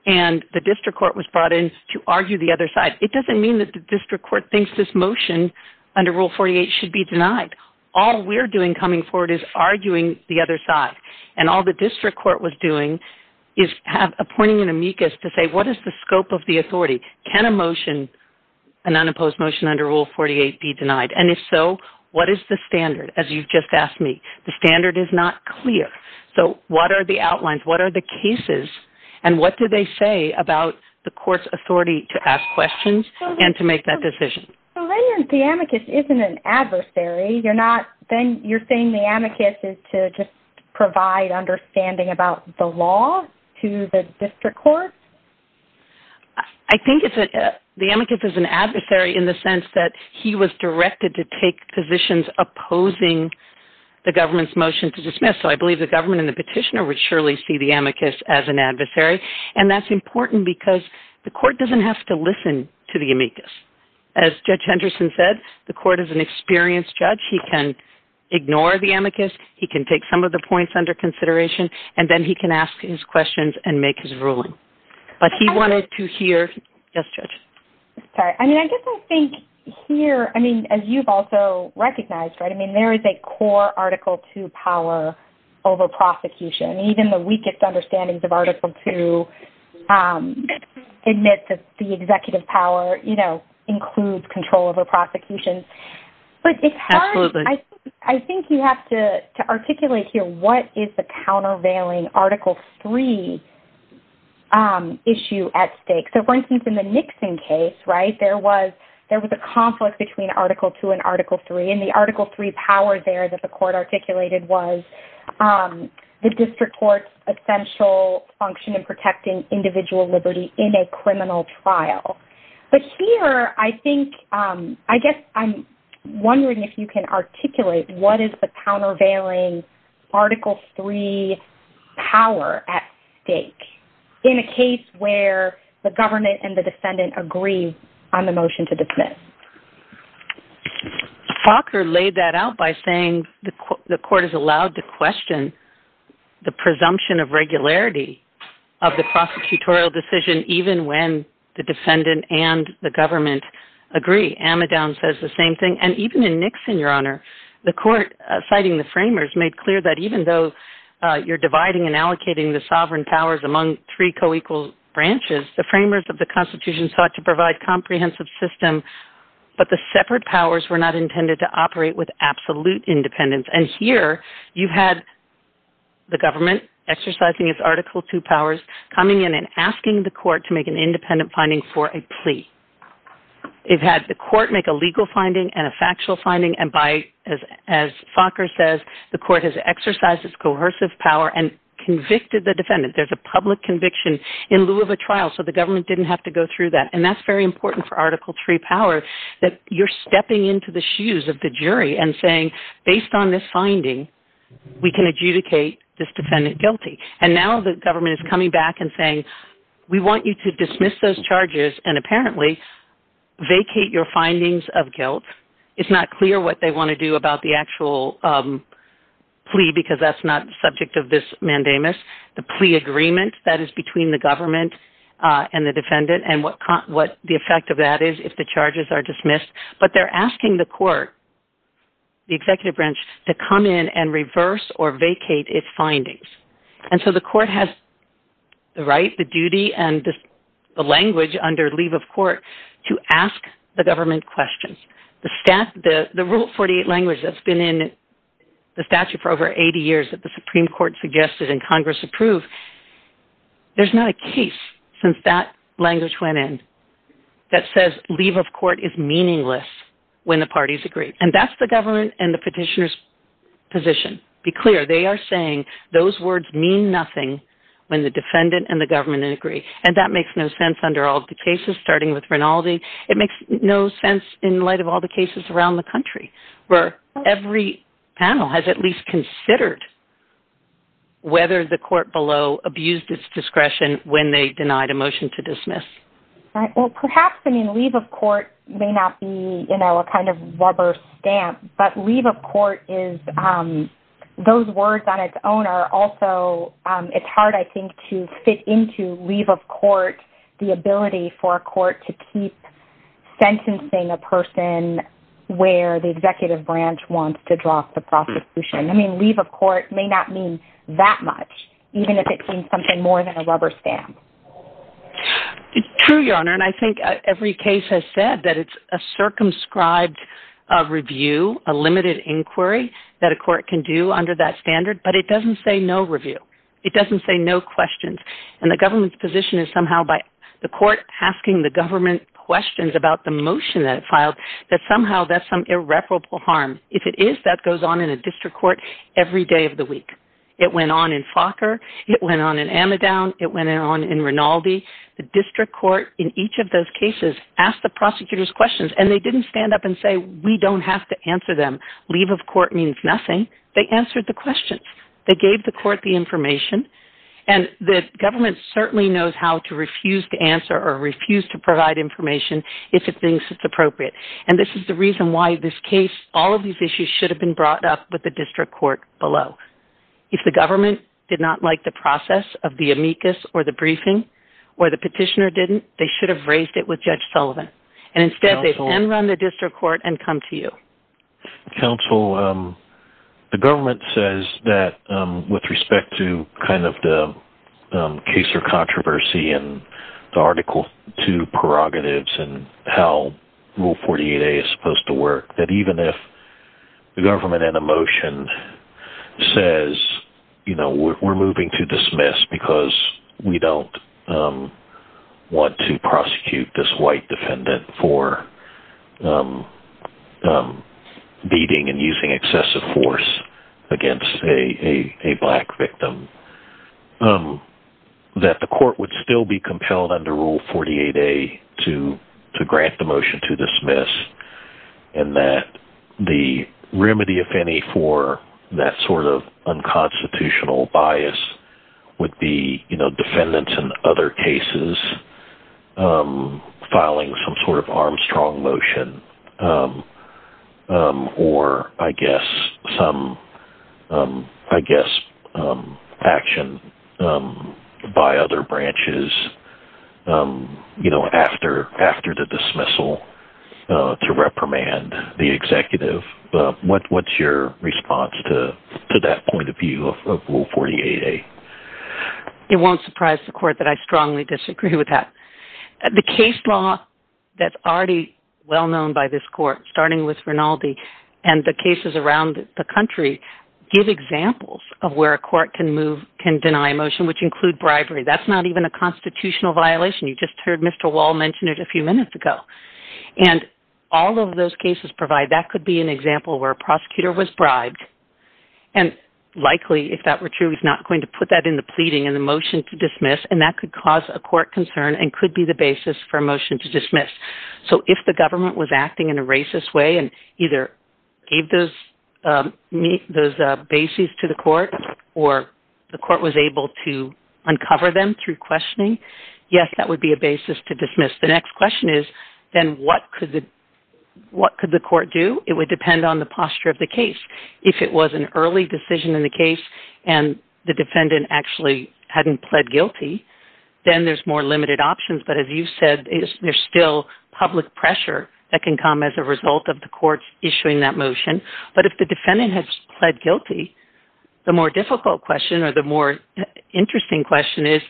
and the district court was brought in to argue the other side. It doesn't mean that the district court thinks this motion under Rule 48 should be denied. All we're doing coming forward is arguing the other side. And all the district court was doing is appointing an amicus to say, what is the scope of the authority? Can a motion – an unopposed motion under Rule 48 be denied? And if so, what is the standard, as you've just asked me? The standard is not clear. So, what are the outlines? What are the cases? And what do they say about the court's authority to ask questions and to make that decision? Well, then the amicus isn't an adversary. You're not – then you're saying the amicus is to just provide understanding about the law to the district court? I think it's – the amicus is an adversary in the sense that he was directed to take positions opposing the government's motion to dismiss. So, I believe the government and the petitioner would surely see the amicus as an adversary. And that's important because the court doesn't have to listen to the amicus. As Judge Henderson said, the court is an experienced judge. He can ignore the amicus. He can take some of the points under consideration. And then he can ask his questions and make his ruling. But he wanted to hear – yes, Judge? Sorry. I mean, I guess I think here – I mean, as you've also recognized, right? I mean, there is a core Article II power over prosecution. Even the weakest understandings of Article II admit that the executive power, you know, includes control over prosecution. But it's hard. Absolutely. I think you have to articulate here what is the countervailing Article III issue at stake. So, for instance, in the Nixon case, right, there was a conflict between Article II and Article III. And the Article III power there that the court articulated was the district court's essential function in protecting individual liberty in a criminal trial. But here, I think – I guess I'm wondering if you can articulate what is the countervailing Article III power at stake in a case where the government and the defendant agree on the motion to dismiss. Faulkner laid that out by saying the court is allowed to question the presumption of regularity of the prosecutorial decision even when the defendant and the government agree. Amidon says the same thing. And even in Nixon, Your Honor, the court citing the framers made clear that even though you're dividing and allocating the sovereign powers among three co-equal branches, the framers of the Constitution sought to provide comprehensive system, but the separate powers were not intended to operate with absolute independence. And here, you had the government exercising its Article II powers coming in and asking the court to make an independent finding for a plea. It had the court make a legal finding and a factual finding, and as Faulkner says, the court has exercised its coercive power and convicted the defendant. There's a public conviction in lieu of a trial, so the government didn't have to go through that. And that's very important for Article III power that you're stepping into the shoes of the jury and saying, based on this finding, we can adjudicate this defendant guilty. And now the government is coming back and saying, we want you to dismiss those charges and apparently vacate your findings of guilt. It's not clear what they want to do about the actual plea because that's not the subject of this mandamus. The plea agreement that is between the government and the defendant and what the effect of that is if the charges are dismissed. But they're asking the court, the executive branch, to come in and reverse or vacate its findings. And so the court has the right, the duty, and the language under leave of court to ask the government questions. The Rule 48 language that's been in the statute for over 80 years that the Supreme Court suggested and Congress approved, there's not a case since that language went in that says leave of court is meaningless when the parties agree. And that's the government and the petitioner's position. To be clear, they are saying those words mean nothing when the defendant and the government agree. And that makes no sense under all the cases, starting with Rinaldi. It makes no sense in light of all the cases around the country where every panel has at least considered whether the court below abused its discretion when they denied a motion to dismiss. Well, perhaps leave of court may not be a kind of rubber stamp, but leave of court is, those words on its own are also, it's hard I think to fit into leave of court the ability for a court to keep sentencing a person where the executive branch wants to draw the prosecution. I mean, leave of court may not mean that much, even if it means something more than a rubber stamp. It's true, Your Honor, and I think every case has said that it's a circumscribed review, a limited inquiry that a court can do under that standard, but it doesn't say no review. It doesn't say no questions. And the government's position is somehow by the court asking the government questions about the motion that it filed, that somehow there's some irreparable harm. If it is, that goes on in a district court every day of the week. It went on in Fokker. It went on in Amidon. It went on in Rinaldi. The district court in each of those cases asked the prosecutors questions, and they didn't stand up and say, we don't have to answer them. Leave of court means nothing. They answered the questions. They gave the court the information, and the government certainly knows how to refuse to answer or refuse to provide information if it thinks it's appropriate. And this is the reason why this case, all of these issues, should have been brought up with the district court below. If the government did not like the process of the amicus or the briefing or the petitioner didn't, they should have raised it with Judge Sullivan. And instead, they've ended on the district court and come to you. Counsel, the government says that with respect to kind of the case or controversy and the Article 2 prerogatives and how Rule 48a is supposed to work, that even if the government in a motion says, you know, we're moving to dismiss because we don't want to prosecute this white defendant for beating and using excessive force against a black victim, that the court would still be compelled under Rule 48a to grant the motion to dismiss and that the remedy, if any, for that sort of unconstitutional bias would be defendants in other cases filing some sort of Armstrong motion or, I guess, action by other branches after the dismissal to reprimand the executive. What's your response to that point of view of Rule 48a? It won't surprise the court that I strongly disagree with that. The case law that's already well known by this court, starting with Rinaldi and the cases around the country, give examples of where a court can move, can deny a motion, which include bribery. That's not even a constitutional violation. You just heard Mr. Wall mention it a few minutes ago. And all of those cases provide that could be an example where a prosecutor was bribed and likely, if that were true, is not going to put that in the pleading in the motion to dismiss and that could cause a court concern and could be the basis for a motion to dismiss. So if the government was acting in a racist way and either gave those bases to the court or the court was able to uncover them through questioning, yes, that would be a basis to dismiss. The next question is, then what could the court do? It would depend on the posture of the case. If it was an early decision in the case and the defendant actually hadn't pled guilty, then there's more limited options. But as you said, there's still public pressure that can come as a result of the court issuing that motion. But if the defendant has pled guilty, the more difficult question or the more interesting question is,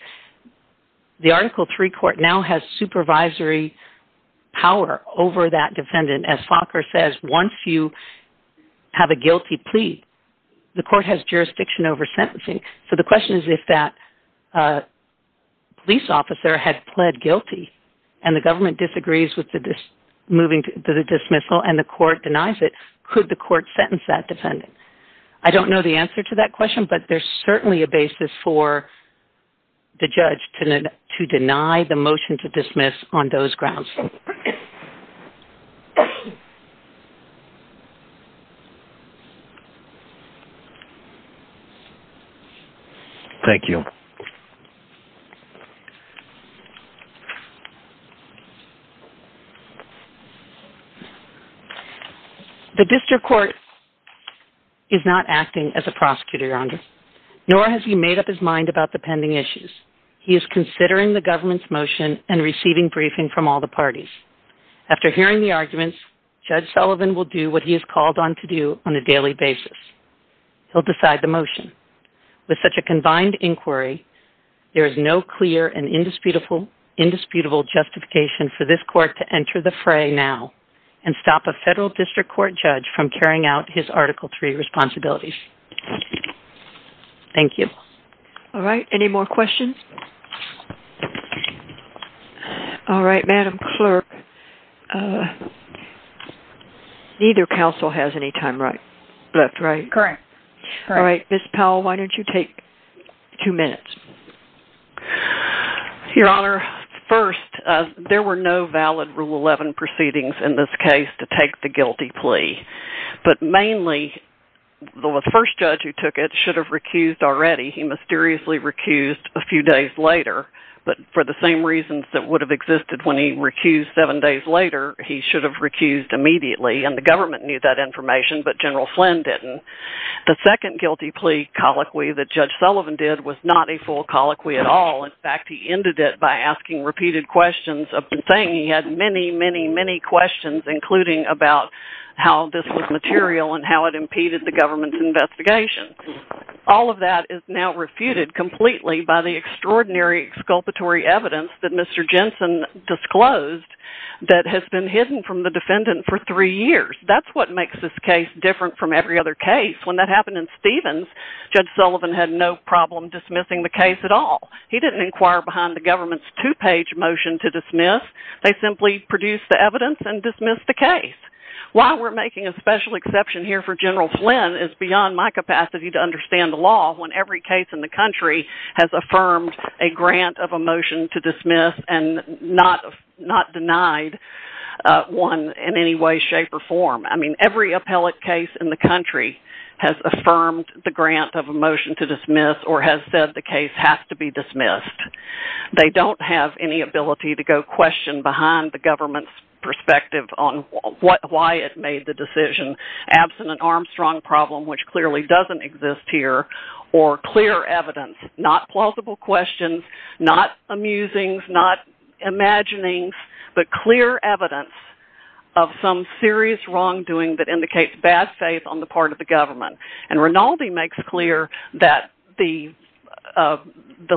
the Article III court now has supervisory power over that defendant. As Falker says, once you have a guilty plea, the court has jurisdiction over sentencing. So the question is if that police officer had pled guilty and the government disagrees with moving to the dismissal and the court denies it, could the court sentence that defendant? I don't know the answer to that question, but there's certainly a basis for the judge to deny the motion to dismiss on those grounds. Thank you. The district court is not acting as a prosecutor, Your Honor, nor has he made up his mind about the pending issues. He is considering the government's motion and receiving briefing from all the parties. After hearing the arguments, Judge Sullivan will do what he is called on to do on a daily basis. He'll decide the motion. With such a combined inquiry, there is no clear and indisputable justification for this court to enter the fray now and stop a federal district court judge from carrying out his Article III responsibilities. Thank you. All right, any more questions? All right, Madam Clerk. Neither counsel has any time left, right? Correct. All right, Ms. Powell, why don't you take two minutes? Your Honor, first, there were no valid Rule 11 proceedings in this case to take the guilty plea. But mainly, the first judge who took it should have recused already. He mysteriously recused a few days later. But for the same reasons that would have existed when he recused seven days later, he should have recused immediately. And the government knew that information, but General Flynn didn't. The second guilty plea colloquy that Judge Sullivan did was not a full colloquy at all. In fact, he ended it by asking repeated questions of the thing. He had many, many, many questions, including about how this was material and how it impeded the government's investigation. All of that is now refuted completely by the extraordinary exculpatory evidence that Mr. Jensen disclosed that has been hidden from the defendant for three years. That's what makes this case different from every other case. When that happened in Stevens, Judge Sullivan had no problem dismissing the case at all. He didn't inquire behind the government's two-page motion to dismiss. They simply produced the evidence and dismissed the case. Why we're making a special exception here for General Flynn is beyond my capacity to understand the law when every case in the country has affirmed a grant of a motion to dismiss and not denied one in any way, shape, or form. I mean, every appellate case in the country has affirmed the grant of a motion to dismiss or has said the case has to be dismissed. They don't have any ability to go question behind the government's perspective on why it made the decision. Absent an Armstrong problem, which clearly doesn't exist here, or clear evidence, not plausible questions, not amusing, not imagining, but clear evidence of some serious wrongdoing that indicates bad faith on the part of the government. And Rinaldi makes clear that the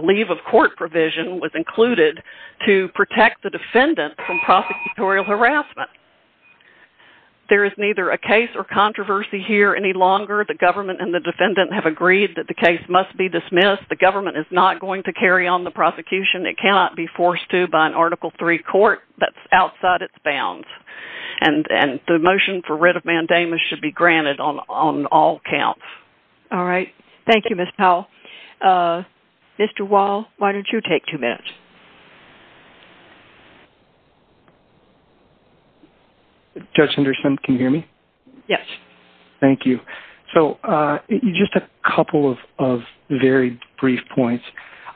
leave of court provision was included to protect the defendant from prosecutorial harassment. There is neither a case or controversy here any longer. The government and the defendant have agreed that the case must be dismissed. The government is not going to carry on the prosecution. It cannot be forced to by an Article III court that's outside its bounds. And the motion for writ of mandamus should be granted on all counts. All right. Thank you, Ms. Powell. Mr. Wall, why don't you take two minutes? Judge Henderson, can you hear me? Yes. Thank you. So, just a couple of very brief points.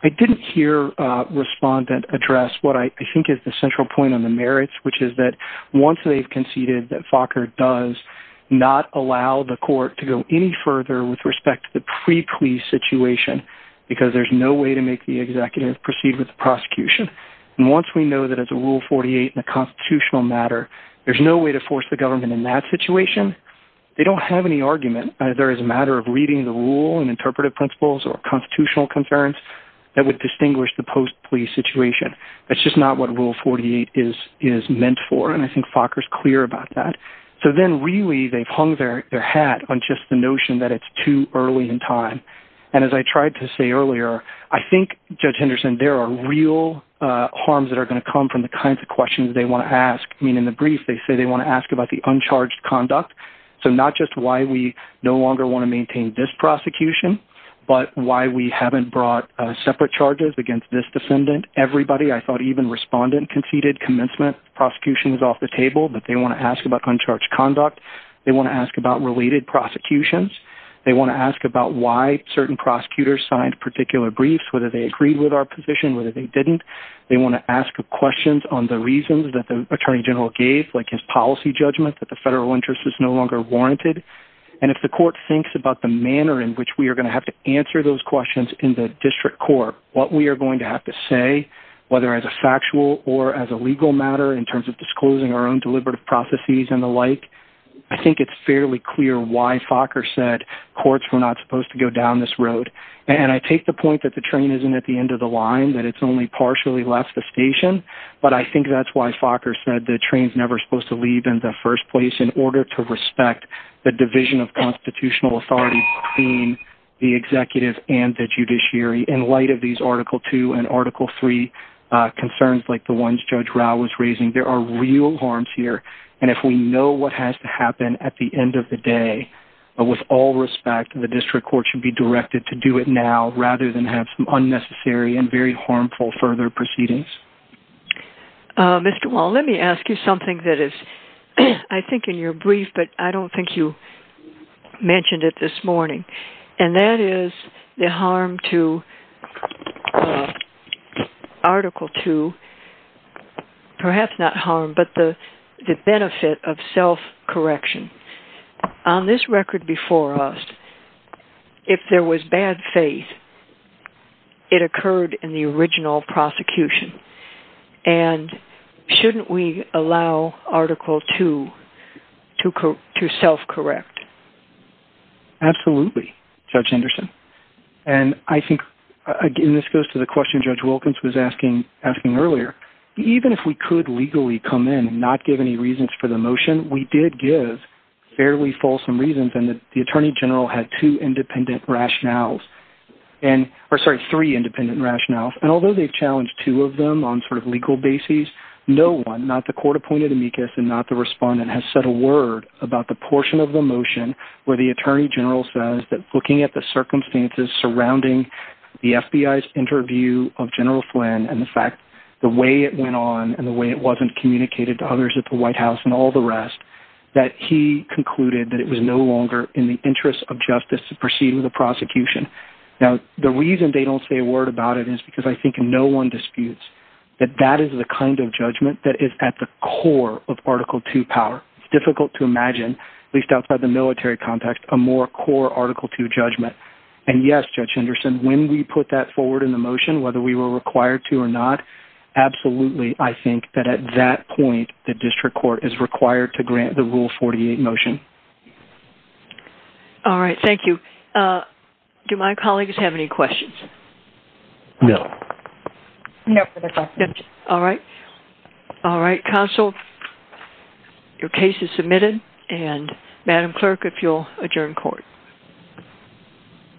I didn't hear a respondent address what I think is the central point on the merits, which is that once they've conceded that Fokker does not allow the court to go any further with respect to the pre-plea situation because there's no way to make the executive proceed with the prosecution. And once we know that it's a Rule 48 and a constitutional matter, there's no way to force the government in that situation. They don't have any argument that there is a matter of reading the rule and interpretive principles or constitutional concerns that would distinguish the post-plea situation. That's just not what Rule 48 is meant for. And I think Fokker's clear about that. So, then, really, they've hung their hat on just the notion that it's too early in time. And as I tried to say earlier, I think, Judge Henderson, there are real harms that are going to come from the kinds of questions they want to ask. I mean, in the brief, they say they want to ask about the uncharged conduct. So, not just why we no longer want to maintain this prosecution, but why we haven't brought separate charges against this defendant. Everybody, I thought even respondent, conceded commencement prosecution was off the table, but they want to ask about uncharged conduct. They want to ask about related prosecutions. They want to ask about why certain prosecutors signed particular briefs, whether they agreed with our position, whether they didn't. They want to ask questions on the reasons that the Attorney General gave, like his policy judgment that the federal interest is no longer warranted. And if the court thinks about the manner in which we are going to have to answer those questions in the district court, what we are going to have to say, whether as a factual or as a legal matter, in terms of disclosing our own deliberative processes and the like, I think it's fairly clear why Fokker said courts were not supposed to go down this road. And I take the point that the train isn't at the end of the line, that it's only partially left the station, but I think that's why Fokker said the train's never supposed to leave in the first place, in order to respect the division of constitutional authority between the executive and the judiciary. In light of these Article 2 and Article 3 concerns, like the ones Judge Rao was raising, there are real harms here. And if we know what has to happen at the end of the day, with all respect, the district court should be directed to do it now, rather than have some unnecessary and very harmful further proceedings. Mr. Wall, let me ask you something that is, I think, in your brief, but I don't think you mentioned it this morning. And that is the harm to Article 2, perhaps not harm, but the benefit of self-correction. On this record before us, if there was bad faith, it occurred in the original prosecution. And shouldn't we allow Article 2 to self-correct? Absolutely, Judge Anderson. And I think, and this goes to the question Judge Wilkins was asking earlier, even if we could legally come in and not give any reasons for the motion, we did give fairly fulsome reasons, and the Attorney General had two independent rationales, or sorry, three independent rationales. And although they've challenged two of them on sort of legal basis, no one, not the court opponent amicus and not the respondent, has said a word about the portion of the motion where the Attorney General says that looking at the circumstances surrounding the FBI's interview of General Flynn and the fact the way it went on and the way it wasn't communicated to others at the White House and all the rest, that he concluded that it was no longer in the interest of justice to proceed with the prosecution. Now, the reason they don't say a word about it is because I think no one disputes that that is the kind of judgment that is at the core of Article 2 power. It's difficult to imagine, at least outside the military context, a more core Article 2 judgment. And yes, Judge Anderson, when we put that forward in the motion, whether we were required to or not, absolutely I think that at that point the district court is required to grant the Rule 48 motion. All right, thank you. Do my colleagues have any questions? No. No, that's all. All right. All right, counsel, your case is submitted and Madam Clerk, if you'll adjourn court.